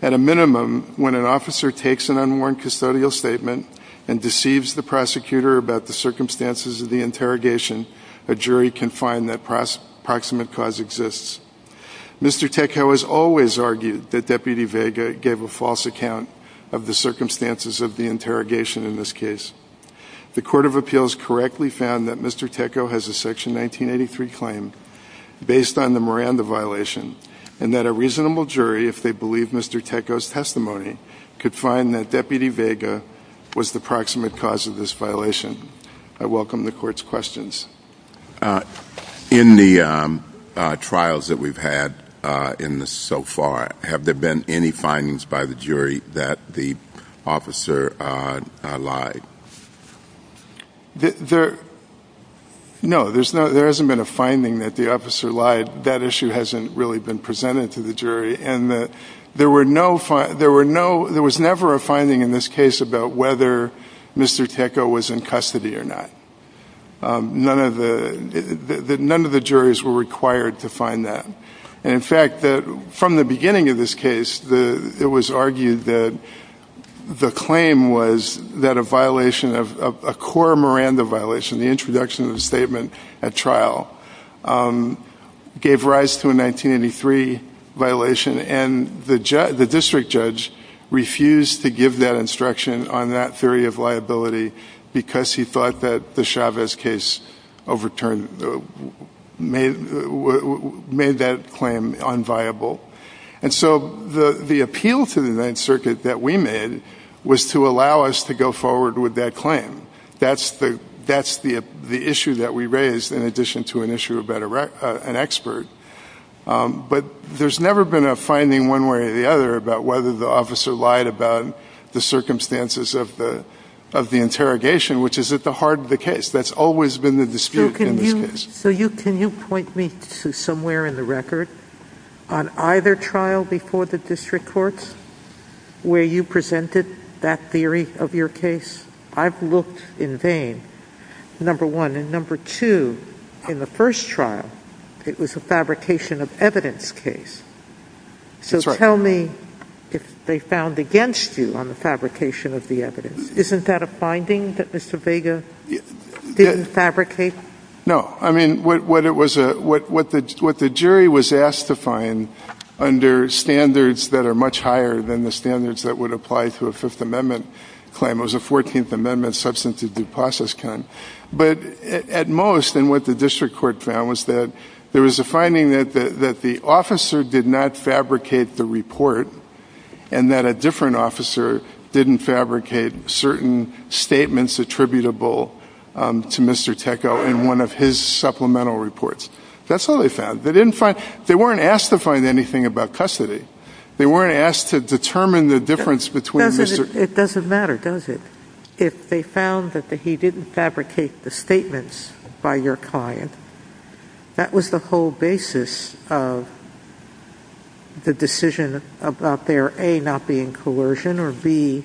At a minimum, when an officer takes an unworn custodial statement and deceives the prosecutor about the circumstances of the interrogation, a jury can find that proximate cause exists. Mr. Teko has always argued that Deputy Vega gave a false account of the circumstances of the interrogation in this case. The Court of Appeals correctly found that Mr. Teko has a Section 1983 claim based on the Miranda violation and that a reasonable jury, if they believe Mr. Teko's testimony, could find that Deputy Vega was the proximate cause of this violation. I welcome the Court's questions. In the trials that we've had so far, have there been any findings by the jury that the officer lied? No, there hasn't been a finding that the officer lied. That issue hasn't really been presented to the jury. There was never a finding in this case about whether Mr. Teko was in custody or not. None of the juries were required to find that. In fact, from the beginning of this case, it was argued that the claim was that a violation of a core Miranda violation, the introduction of the statement at trial, gave rise to a 1983 violation, and the district judge refused to give that instruction on that theory of liability because he thought that the Chavez case overturned, made that claim unviable. And so the appeal to the Ninth Circuit that we made was to allow us to go forward with that claim. That's the issue that we raised in addition to an issue about an expert. But there's never been a finding one way or the other about whether the officer lied about the circumstances of the interrogation, which is at the heart of the case. That's always been the dispute in this case. So can you point me to somewhere in the record on either trial before the district courts where you presented that theory of your case? I've looked in vain, number one. And number two, in the first trial, it was a fabrication of evidence case. So tell me if they found against you on the fabrication of the evidence. Isn't that a finding that Mr. Vega didn't fabricate? No. I mean, what the jury was asked to find under standards that are much higher than the standards that would apply to a Fifth Amendment claim was the Fourteenth Amendment substance of due process claim. But at most, and what the district court found was that there was a finding that the officer did not fabricate the report and that a different officer didn't fabricate certain statements attributable to Mr. Teckel in one of his supplemental reports. That's all they found. They weren't asked to find anything about custody. It doesn't matter, does it? If they found that he didn't fabricate the statements by your client, that was the whole basis of the decision about there, A, not being coercion, or B,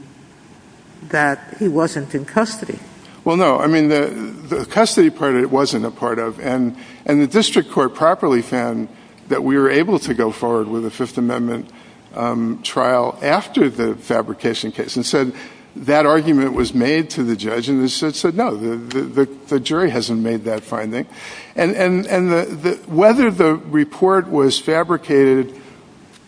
that he wasn't in custody. Well, no. I mean, the custody part of it wasn't a part of it. And the district court properly found that we were able to go forward with a Fifth Amendment trial after the fabrication case. And so that argument was made to the judge, and the judge said, no, the jury hasn't made that finding. And whether the report was fabricated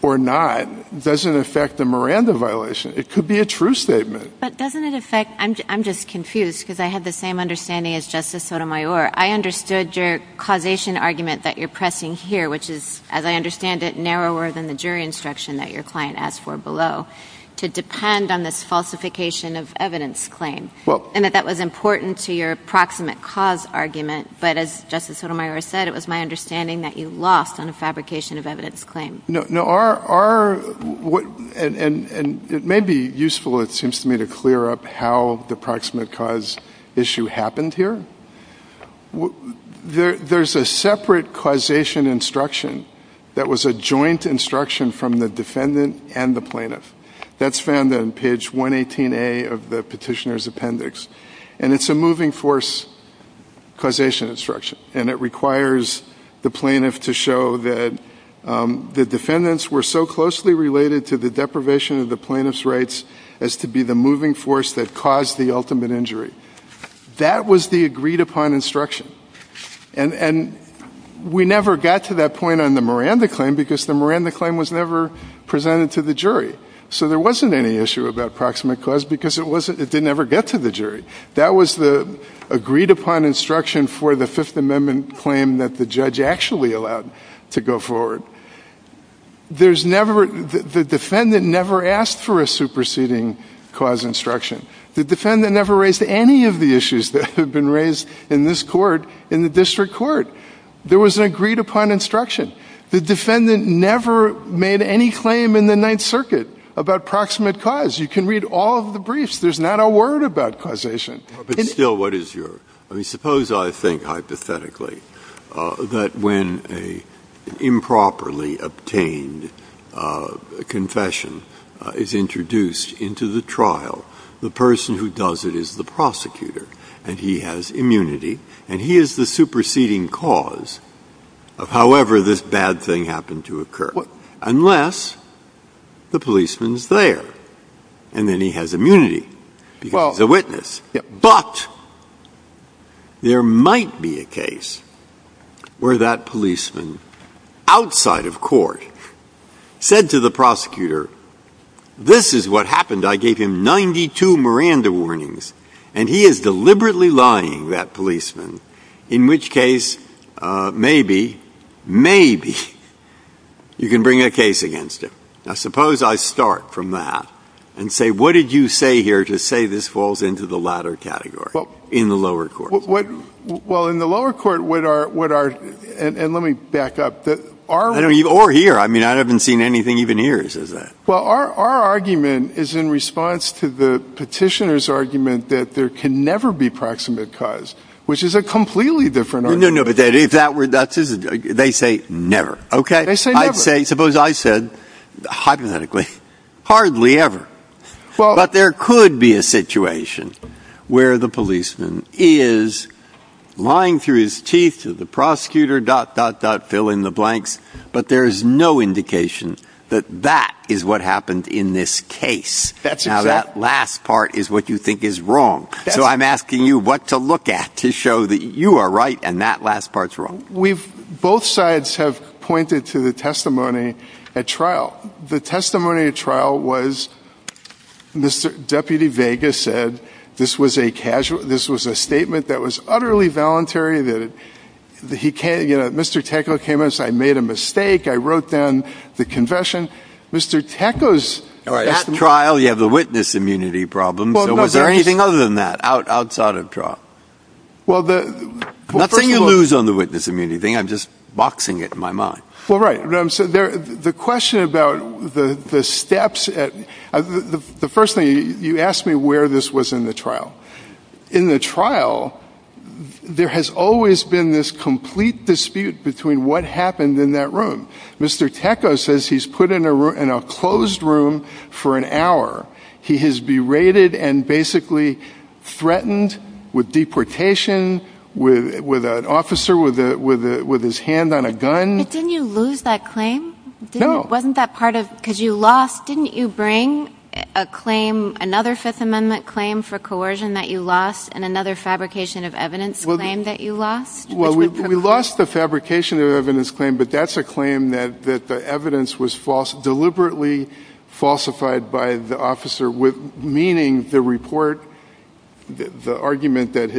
or not doesn't affect the Miranda violation. It could be a true statement. But doesn't it affect – I'm just confused because I have the same understanding as Justice Sotomayor. I understood your causation argument that you're pressing here, which is, as I understand it, narrower than the jury instruction that your client asked for below, to depend on this falsification of evidence claim. And that that was important to your proximate cause argument. But as Justice Sotomayor said, it was my understanding that you lost on the fabrication of evidence claims. No, our – and it may be useful, it seems to me, to clear up how the proximate cause issue happened here. There's a separate causation instruction that was a joint instruction from the defendant and the plaintiff. That's found on page 118A of the petitioner's appendix. And it's a moving force causation instruction. And it requires the plaintiff to show that the defendants were so closely related to the deprivation of the plaintiff's rights as to be the moving force that caused the ultimate injury. That was the agreed-upon instruction. And we never got to that point on the Miranda claim because the Miranda claim was never presented to the jury. So there wasn't any issue with that proximate cause because it didn't ever get to the jury. That was the agreed-upon instruction for the Fifth Amendment claim that the judge actually allowed to go forward. There's never – the defendant never asked for a superseding cause instruction. The defendant never raised any of the issues that have been raised in this court in the district court. There was an agreed-upon instruction. The defendant never made any claim in the Ninth Circuit about proximate cause. You can read all of the briefs. There's not a word about causation. But still, what is your – I mean, suppose I think hypothetically that when an improperly obtained confession is introduced into the trial, the person who does it is the prosecutor, and he has immunity, and he is the superseding cause of however this bad thing happened to occur. Unless the policeman's there, and then he has immunity because he's a witness. But there might be a case where that policeman outside of court said to the prosecutor, This is what happened. I gave him 92 Miranda warnings, and he is deliberately lying, that policeman. In which case, maybe, maybe you can bring a case against him. Now, suppose I start from that and say, what did you say here to say this falls into the latter category in the lower court? Well, in the lower court, what are – and let me back up. Or here. I mean, I haven't seen anything even here that says that. Well, our argument is in response to the petitioner's argument that there can never be proximate cause, which is a completely different argument. No, no, no. They say never. Okay. Suppose I said, hypothetically, hardly ever. But there could be a situation where the policeman is lying through his teeth to the prosecutor, dot, dot, dot, fill in the blanks. But there's no indication that that is what happened in this case. Now, that last part is what you think is wrong. So I'm asking you what to look at to show that you are right and that last part's wrong. Well, the testimony at trial was Mr. – Deputy Vega said this was a casual – this was a statement that was utterly voluntary that he – Mr. Teko came in and said, I made a mistake. I wrote down the confession. Mr. Teko's – At trial, you have the witness immunity problem. So was there anything other than that outside of trial? Well, the – Nothing to lose on the witness immunity thing. I'm just boxing it in my mind. Well, right. The question about the steps at – the first thing, you asked me where this was in the trial. In the trial, there has always been this complete dispute between what happened in that room. Mr. Teko says he's put in a closed room for an hour. He has berated and basically threatened with deportation, with an officer with his hand on a gun. Didn't you lose that claim? No. Wasn't that part of – because you lost – didn't you bring a claim, another Fifth Amendment claim for coercion that you lost and another fabrication of evidence claim that you lost? Well, we lost the fabrication of evidence claim, but that's a claim that the evidence was deliberately falsified by the officer, meaning the report – the argument that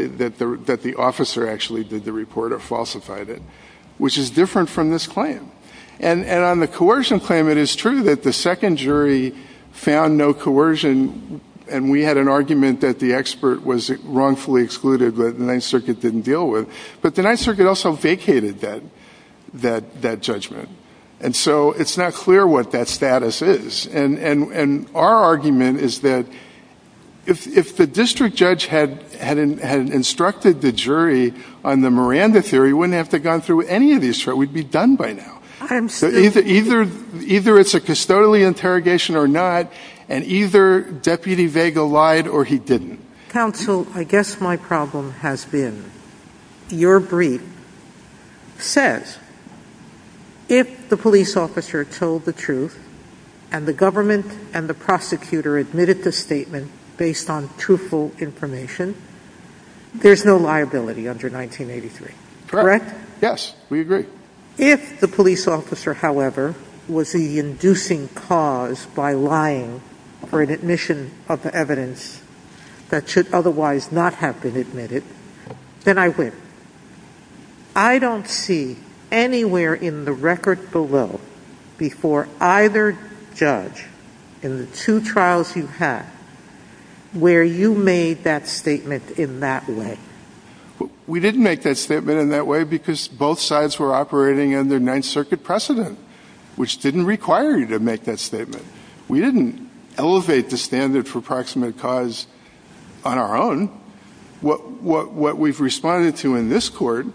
the officer actually did the report or falsified it, which is different from this claim. And on the coercion claim, it is true that the second jury found no coercion, and we had an argument that the expert was wrongfully excluded but the Ninth Circuit didn't deal with. But the Ninth Circuit also vacated that judgment. And so it's not clear what that status is. And our argument is that if the district judge had instructed the jury on the Miranda theory, we wouldn't have to have gone through any of these – we'd be done by now. Either it's a custodial interrogation or not, and either Deputy Vega lied or he didn't. Counsel, I guess my problem has been your brief says if the police officer told the truth and the government and the prosecutor admitted the statement based on truthful information, there's no liability under 1983. Correct? Yes, we agree. If the police officer, however, was the inducing cause by lying for an admission of the evidence that should otherwise not have been admitted, then I win. I don't see anywhere in the record below before either judge in the two trials you've had where you made that statement in that way. We didn't make that statement in that way because both sides were operating under Ninth Circuit precedent, which didn't require you to make that statement. We didn't elevate the standard for proximate cause on our own. What we've responded to in this court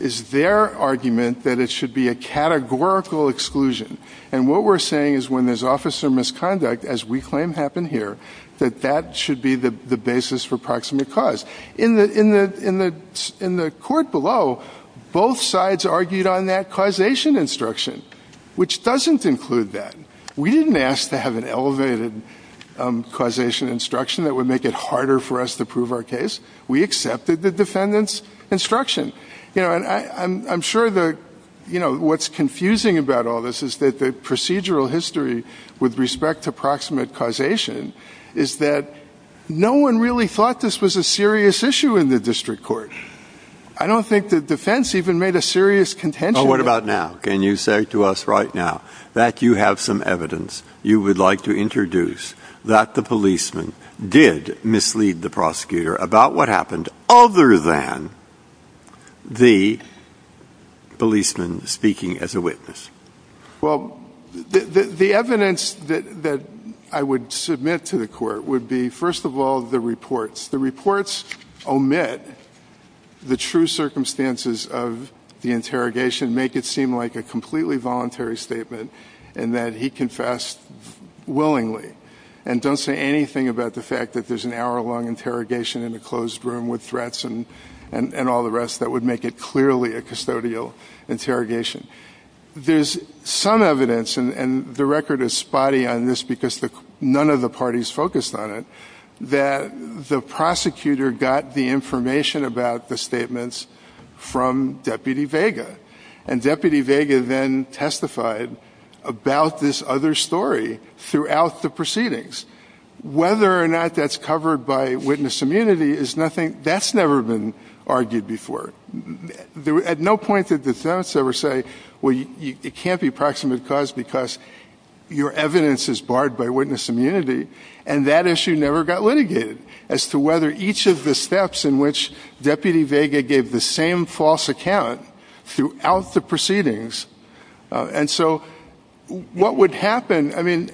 is their argument that it should be a categorical exclusion. And what we're saying is when there's officer misconduct, as we claim happened here, that that should be the basis for proximate cause. In the court below, both sides argued on that causation instruction, which doesn't include that. We didn't ask to have an elevated causation instruction that would make it harder for us to prove our case. We accepted the defendant's instruction. I'm sure what's confusing about all this is that the procedural history with respect to proximate causation is that no one really thought this was a serious issue in the district court. I don't think the defense even made a serious contention. Well, what about now? Can you say to us right now that you have some evidence you would like to introduce that the policeman did mislead the prosecutor about what happened other than the policeman speaking as a witness? Well, the evidence that I would submit to the court would be, first of all, the reports. The reports omit the true circumstances of the interrogation, make it seem like a completely voluntary statement and that he confessed willingly and don't say anything about the fact that there's an hour-long interrogation in a closed room with threats and all the rest that would make it clearly a custodial interrogation. There's some evidence, and the record is spotty on this because none of the parties focused on it, that the prosecutor got the information about the statements from Deputy Vega, and Deputy Vega then testified about this other story throughout the proceedings. Whether or not that's covered by witness immunity, that's never been argued before. At no point did the defense ever say, well, it can't be proximate cause because your evidence is barred by witness immunity, and that issue never got litigated as to whether each of the steps in which Deputy Vega gave the same false account throughout the proceedings. And so what would happen, I mean,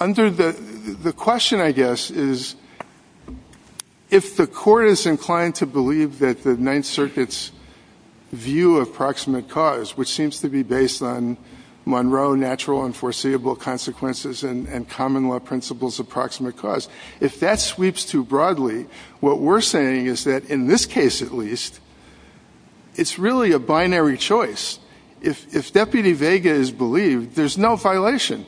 under the question, I guess, is if the court is inclined to believe that the Ninth Circuit's view of proximate cause, which seems to be based on Monroe natural and foreseeable consequences and common law principles of proximate cause, if that sweeps too broadly, what we're saying is that, in this case at least, it's really a binary choice. If Deputy Vega is believed, there's no violation,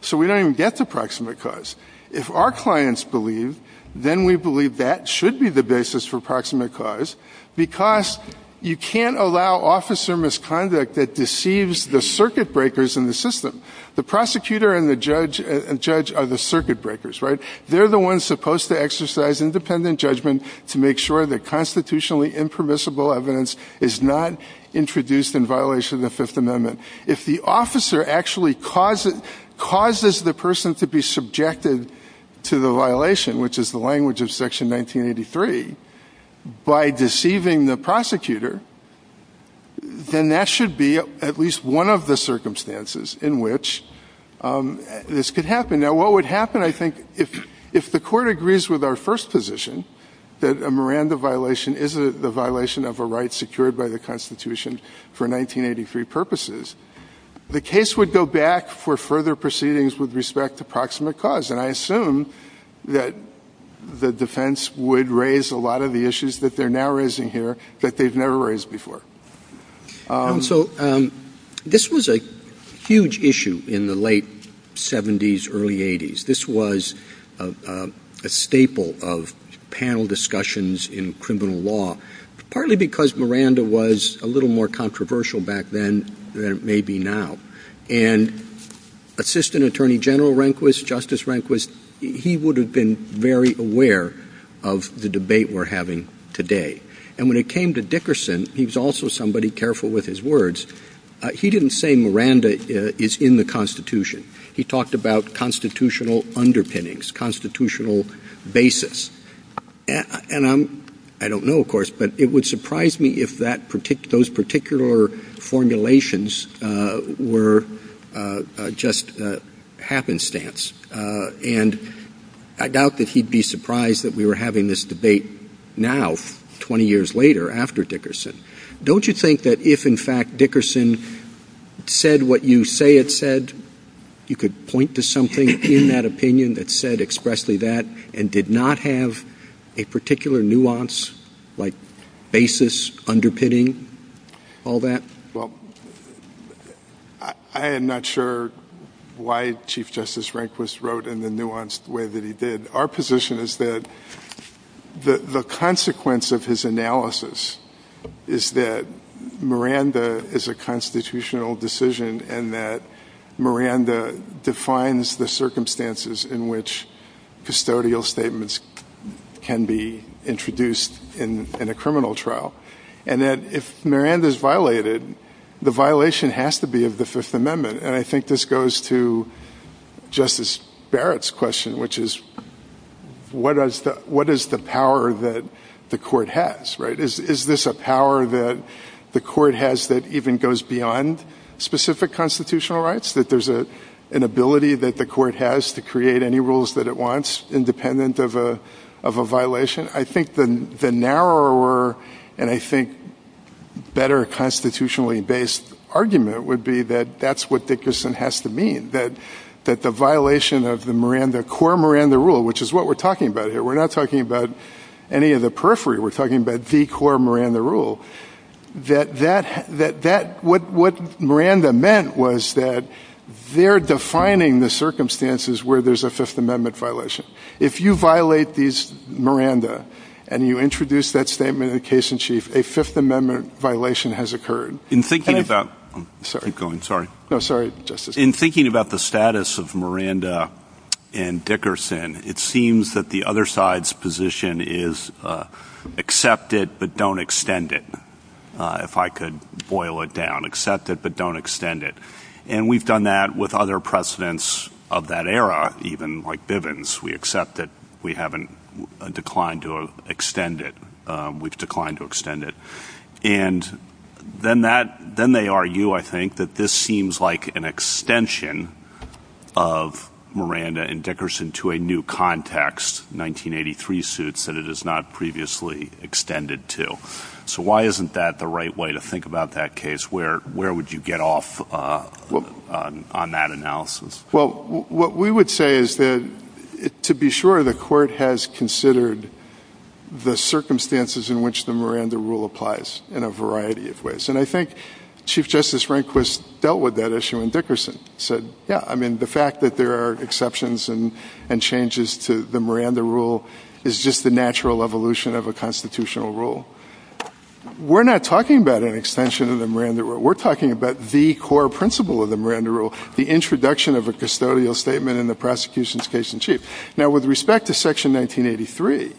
so we don't even get to proximate cause. If our clients believe, then we believe that should be the basis for proximate cause, because you can't allow officer misconduct that deceives the circuit breakers in the system. The prosecutor and the judge are the circuit breakers, right? They're the ones supposed to exercise independent judgment to make sure that constitutionally impermissible evidence is not introduced in violation of the Fifth Amendment. If the officer actually causes the person to be subjected to the violation, which is the language of Section 1983, by deceiving the prosecutor, then that should be at least one of the circumstances in which this could happen. Now, what would happen, I think, if the court agrees with our first position, that a Miranda violation is a violation of a right secured by the Constitution for 1983 purposes, the case would go back for further proceedings with respect to proximate cause, and I assume that the defense would raise a lot of the issues that they're now raising here that they've never raised before. So, this was a huge issue in the late 70s, early 80s. This was a staple of panel discussions in criminal law, partly because Miranda was a little more controversial back then than it may be now. And Assistant Attorney General Rehnquist, Justice Rehnquist, he would have been very aware of the debate we're having today. And when it came to Dickerson, he was also somebody careful with his words. He didn't say Miranda is in the Constitution. He talked about constitutional underpinnings, constitutional basis. And I don't know, of course, but it would surprise me if those particular formulations were just happenstance. And I doubt that he'd be surprised that we were having this debate now, 20 years later, after Dickerson. Don't you think that if, in fact, Dickerson said what you say it said, you could point to something in that opinion that said expressly that and did not have a particular nuance, like basis, underpinning, all that? Well, I am not sure why Chief Justice Rehnquist wrote in the nuanced way that he did. Our position is that the consequence of his analysis is that Miranda is a constitutional decision and that Miranda defines the circumstances in which custodial statements can be introduced in a criminal trial. And that if Miranda is violated, the violation has to be of the Fifth Amendment. And I think this goes to Justice Barrett's question, which is what is the power that the court has, right? Is this a power that the court has that even goes beyond specific constitutional rights, that there's an ability that the court has to create any rules that it wants independent of a violation? I think the narrower and I think better constitutionally based argument would be that that's what Dickerson has to mean, that the violation of the Miranda, core Miranda rule, which is what we're talking about here, we're not talking about any of the periphery, we're talking about the core Miranda rule, that what Miranda meant was that they're defining the circumstances where there's a Fifth Amendment violation. If you violate these Miranda and you introduce that statement of the case in chief, a Fifth Amendment violation has occurred. In thinking about the status of Miranda and Dickerson, it seems that the other side's position is accept it, but don't extend it. If I could boil it down, accept it, but don't extend it. And we've done that with other precedents of that era, even like Bivens. We accept that we haven't declined to extend it. We've declined to extend it. And then they argue, I think, that this seems like an extension of Miranda and Dickerson to a new context, 1983 suits that it is not previously extended to. So why isn't that the right way to think about that case? Where would you get off on that analysis? Well, what we would say is that, to be sure, the court has considered the circumstances in which the Miranda rule applies in a variety of ways. And I think Chief Justice Rehnquist dealt with that issue and Dickerson said, yeah, I mean, the fact that there are exceptions and changes to the Miranda rule is just the natural evolution of a constitutional rule. We're not talking about an extension of the Miranda rule. We're talking about the core principle of the Miranda rule, the introduction of a custodial statement in the prosecution's case in chief. Now, with respect to Section 1983,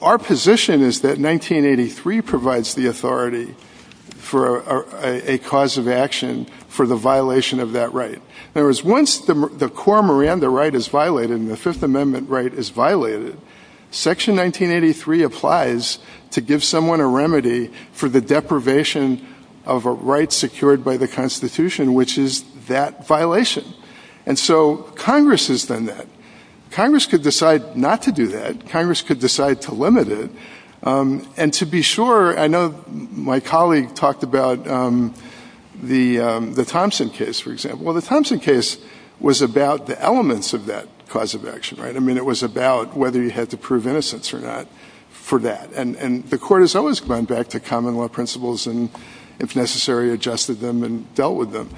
our position is that 1983 provides the authority for a cause of action for the violation of that right. In other words, once the core Miranda right is violated and the Fifth Amendment right is violated, Section 1983 applies to give someone a remedy for the deprivation of a right secured by the Constitution, which is that violation. And so Congress has done that. Congress could decide not to do that. Congress could decide to limit it. And to be sure, I know my colleague talked about the Thompson case, for example. Well, the Thompson case was about the elements of that cause of action, right? I mean, it was about whether you had to prove innocence or not for that. And the court has always gone back to common law principles and, if necessary, adjusted them and dealt with them.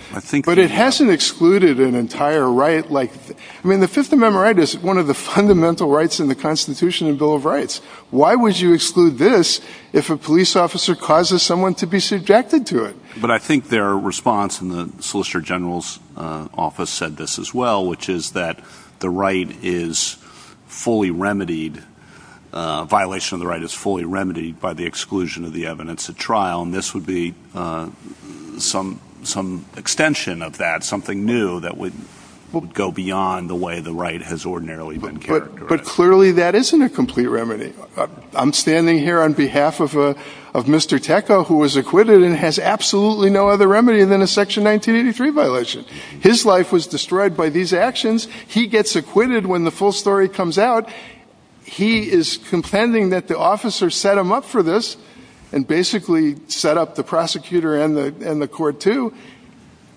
But it hasn't excluded an entire right. I mean, the Fifth Amendment right is one of the fundamental rights in the Constitution and Bill of Rights. Why would you exclude this if a police officer causes someone to be subjected to it? But I think their response in the Solicitor General's office said this as well, which is that the right is fully remedied. A violation of the right is fully remedied by the exclusion of the evidence at trial. And this would be some extension of that, something new that would go beyond the way the right has ordinarily been characterized. But clearly that isn't a complete remedy. I'm standing here on behalf of Mr. Teka, who was acquitted and has absolutely no other remedy than a Section 1983 violation. His life was destroyed by these actions. He gets acquitted when the full story comes out. He is contending that the officer set him up for this and basically set up the prosecutor and the court, too.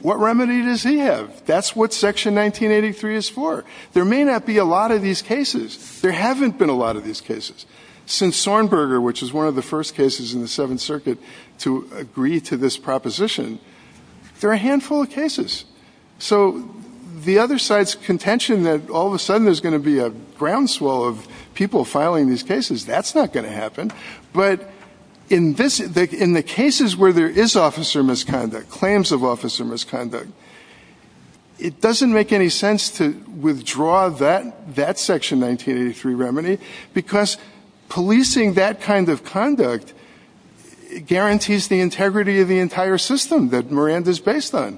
What remedy does he have? That's what Section 1983 is for. There may not be a lot of these cases. There haven't been a lot of these cases. Since Sornberger, which is one of the first cases in the Seventh Circuit to agree to this proposition, there are a handful of cases. So the other side's contention that all of a sudden there's going to be a groundswell of people filing these cases, that's not going to happen. But in the cases where there is officer misconduct, claims of officer misconduct, it doesn't make any sense to withdraw that Section 1983 remedy because policing that kind of conduct guarantees the integrity of the entire system that Miranda is based on.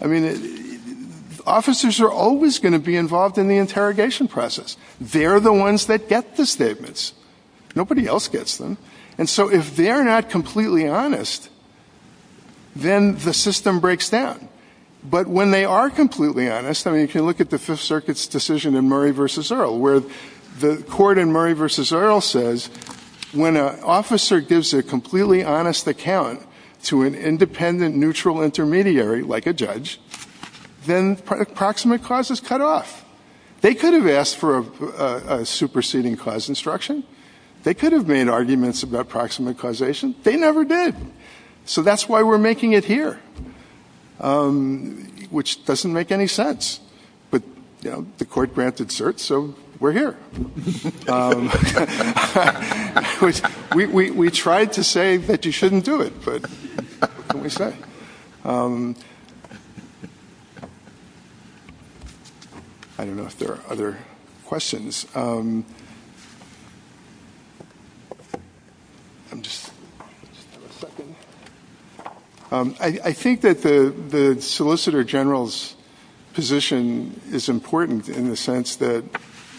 I mean, officers are always going to be involved in the interrogation process. They're the ones that get the statements. Nobody else gets them. And so if they're not completely honest, then the system breaks down. But when they are completely honest, I mean, you can look at the Fifth Circuit's decision in Murray v. Earle, where the court in Murray v. Earle says, when an officer gives a completely honest account to an independent, neutral intermediary, like a judge, then proximate clause is cut off. They could have asked for a superseding clause instruction. They could have made arguments about proximate causation. They never did. So that's why we're making it here, which doesn't make any sense. But the court granted cert, so we're here. We tried to say that you shouldn't do it, but what can we say? I don't know if there are other questions. I think that the Solicitor General's position is important in the sense that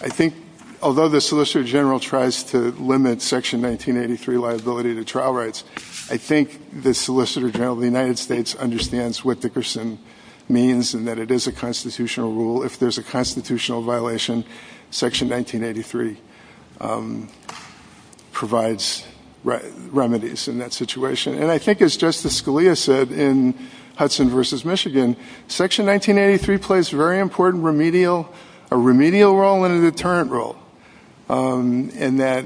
I think although the Solicitor General tries to limit Section 1983 liability to trial rights, I think the Solicitor General of the United States understands what Dickerson means and that it is a constitutional rule. If there's a constitutional violation, Section 1983 provides remedies in that situation. And I think as Justice Scalia said in Hudson v. Michigan, Section 1983 plays a very important remedial role and a deterrent role, and that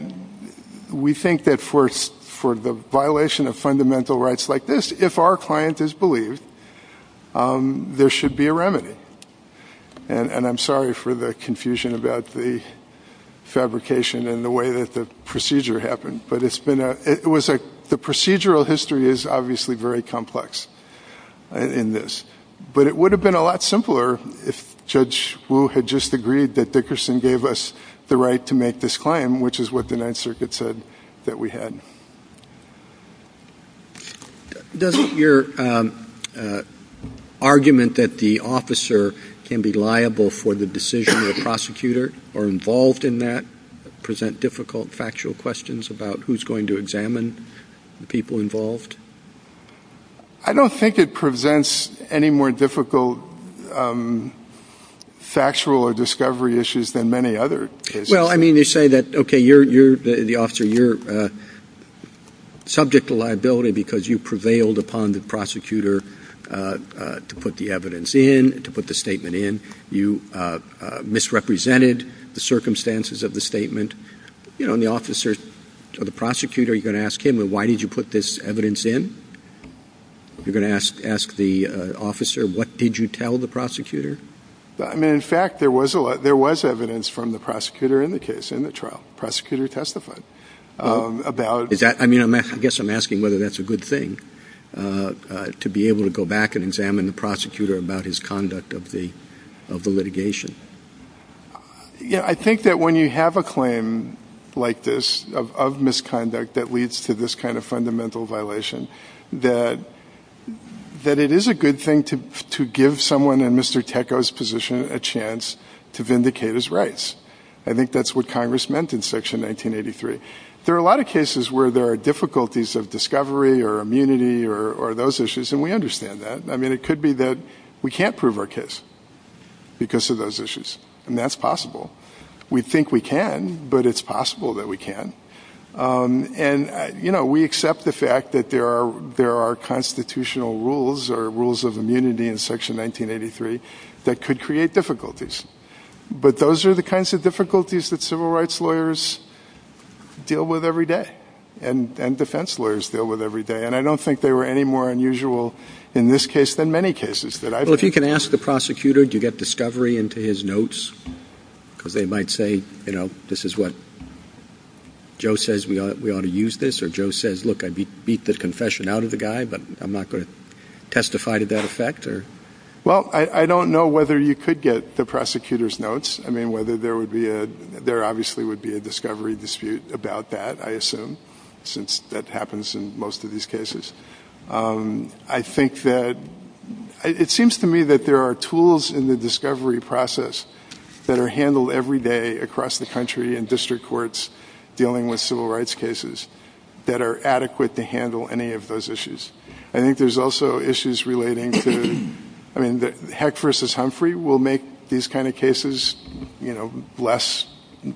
we think that for the violation of fundamental rights like this, if our client is believed, there should be a remedy. And I'm sorry for the confusion about the fabrication and the way that the procedure happened, but the procedural history is obviously very complex in this. But it would have been a lot simpler if Judge Wu had just agreed that Dickerson gave us the right to make this claim, which is what the Ninth Circuit said that we had. Does your argument that the officer can be liable for the decision of the prosecutor or involved in that present difficult, factual questions about who's going to examine the people involved? I don't think it presents any more difficult factual or discovery issues than many other cases. Well, I mean, you say that, okay, you're the officer, you're subject to liability because you prevailed upon the prosecutor to put the evidence in, to put the statement in. You misrepresented the circumstances of the statement. The prosecutor, you're going to ask him, well, why did you put this evidence in? You're going to ask the officer, what did you tell the prosecutor? I mean, in fact, there was evidence from the prosecutor in the case, in the trial. The prosecutor testified. I guess I'm asking whether that's a good thing, to be able to go back and examine the prosecutor about his conduct of the litigation. Yeah, I think that when you have a claim like this of misconduct that leads to this kind of fundamental violation, that it is a good thing to give someone in Mr. Teko's position a chance to vindicate his rights. I think that's what Congress meant in Section 1983. There are a lot of cases where there are difficulties of discovery or immunity or those issues, and we understand that. I mean, it could be that we can't prove our case because of those issues, and that's possible. We think we can, but it's possible that we can't. And we accept the fact that there are constitutional rules or rules of immunity in Section 1983 that could create difficulties. But those are the kinds of difficulties that civil rights lawyers deal with every day and defense lawyers deal with every day. And I don't think they were any more unusual in this case than many cases. Well, if you can ask the prosecutor, do you get discovery into his notes? Because they might say, you know, this is what Joe says we ought to use this. Or Joe says, look, I beat the confession out of the guy, but I'm not going to testify to that effect. Well, I don't know whether you could get the prosecutor's notes. I mean, whether there would be a – there obviously would be a discovery dispute about that, I assume, since that happens in most of these cases. I think that – it seems to me that there are tools in the discovery process that are handled every day across the country in district courts dealing with civil rights cases that are adequate to handle any of those issues. I think there's also issues relating to – I mean, Heck v. Humphrey will make these kind of cases, you know, less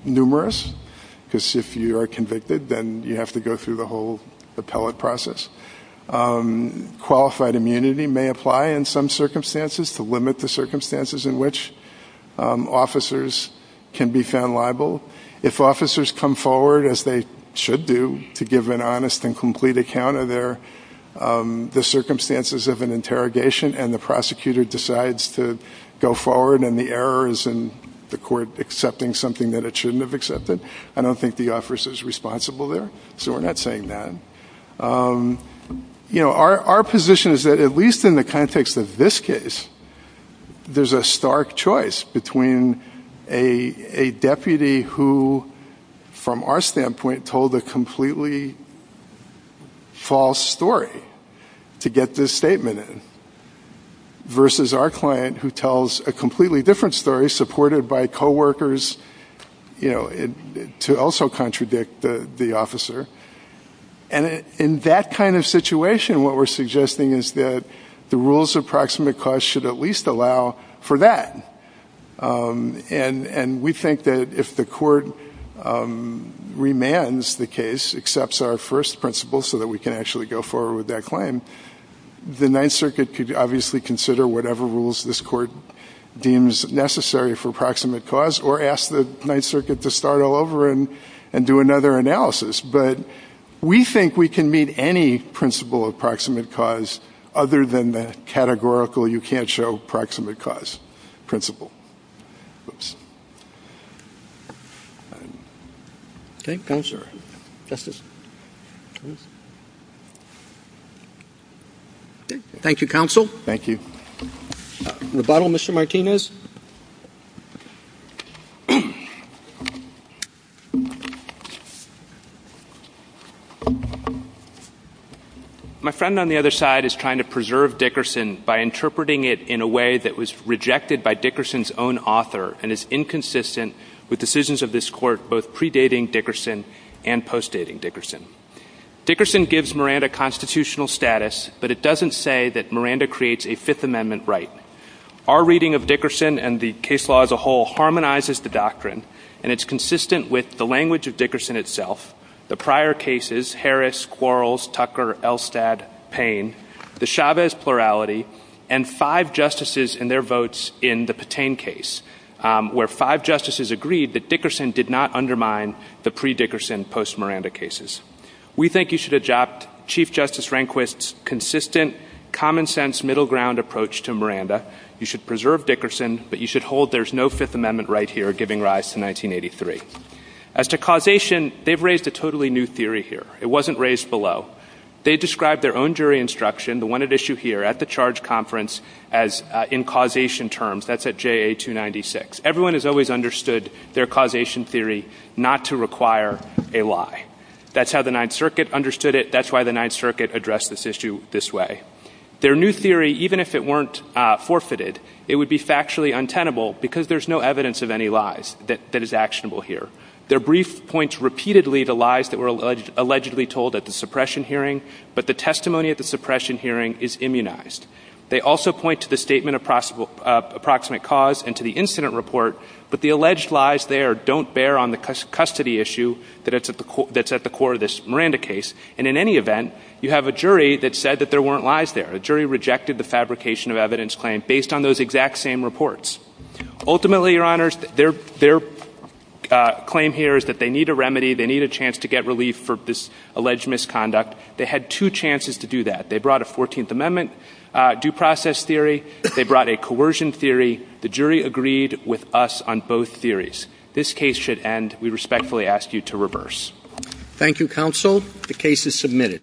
numerous. Because if you are convicted, then you have to go through the whole appellate process. Qualified immunity may apply in some circumstances to limit the circumstances in which officers can be found liable. If officers come forward, as they should do, to give an honest and complete account of their – the circumstances of an interrogation and the prosecutor decides to go forward and the error is in the court accepting something that it shouldn't have accepted, I don't think the officer is responsible there. So we're not saying that. You know, our position is that at least in the context of this case, there's a stark choice between a deputy who, from our standpoint, told a completely false story to get this statement in versus our client who tells a completely different story supported by coworkers, you know, to also contradict the officer. And in that kind of situation, what we're suggesting is that the rules of proximate cause should at least allow for that. And we think that if the court remands the case, accepts our first principle so that we can actually go forward with that claim, the Ninth Circuit could obviously consider whatever rules this court deems necessary for proximate cause or ask the Ninth Circuit to start all over and do another analysis. But we think we can meet any principle of proximate cause other than the categorical you can't show proximate cause principle. Thank you, Counsel. Thank you, Counsel. Thank you. Rebuttal, Mr. Martinez. My friend on the other side is trying to preserve Dickerson by interpreting it in a way that was rejected by Dickerson's case. And it's inconsistent with decisions of this court both predating Dickerson and postdating Dickerson. Dickerson gives Miranda constitutional status, but it doesn't say that Miranda creates a Fifth Amendment right. Our reading of Dickerson and the case law as a whole harmonizes the doctrine, and it's consistent with the language of Dickerson itself, the prior cases, Harris, Quarles, Tucker, Elstad, Payne, the Chavez plurality, and five justices and their votes in the Patain case, where five justices agreed that Dickerson did not undermine the pre-Dickerson, post-Miranda cases. We think you should adopt Chief Justice Rehnquist's consistent, common-sense, middle-ground approach to Miranda. You should preserve Dickerson, but you should hold there's no Fifth Amendment right here giving rise to 1983. As to causation, they've raised a totally new theory here. It wasn't raised below. They described their own jury instruction, the one at issue here at the charge conference, as in causation terms. That's at JA 296. Everyone has always understood their causation theory not to require a lie. That's how the Ninth Circuit understood it. That's why the Ninth Circuit addressed this issue this way. Their new theory, even if it weren't forfeited, it would be factually untenable because there's no evidence of any lies that is actionable here. Their brief points repeatedly the lies that were allegedly told at the suppression hearing, but the testimony at the suppression hearing is immunized. They also point to the statement of approximate cause and to the incident report, but the alleged lies there don't bear on the custody issue that's at the core of this Miranda case. And in any event, you have a jury that said that there weren't lies there. The jury rejected the fabrication of evidence claim based on those exact same reports. Ultimately, Your Honors, their claim here is that they need a remedy. They need a chance to get relief for this alleged misconduct. They had two chances to do that. They brought a 14th Amendment due process theory. They brought a coercion theory. The jury agreed with us on both theories. This case should end. We respectfully ask you to reverse. Thank you, Counsel. The case is submitted.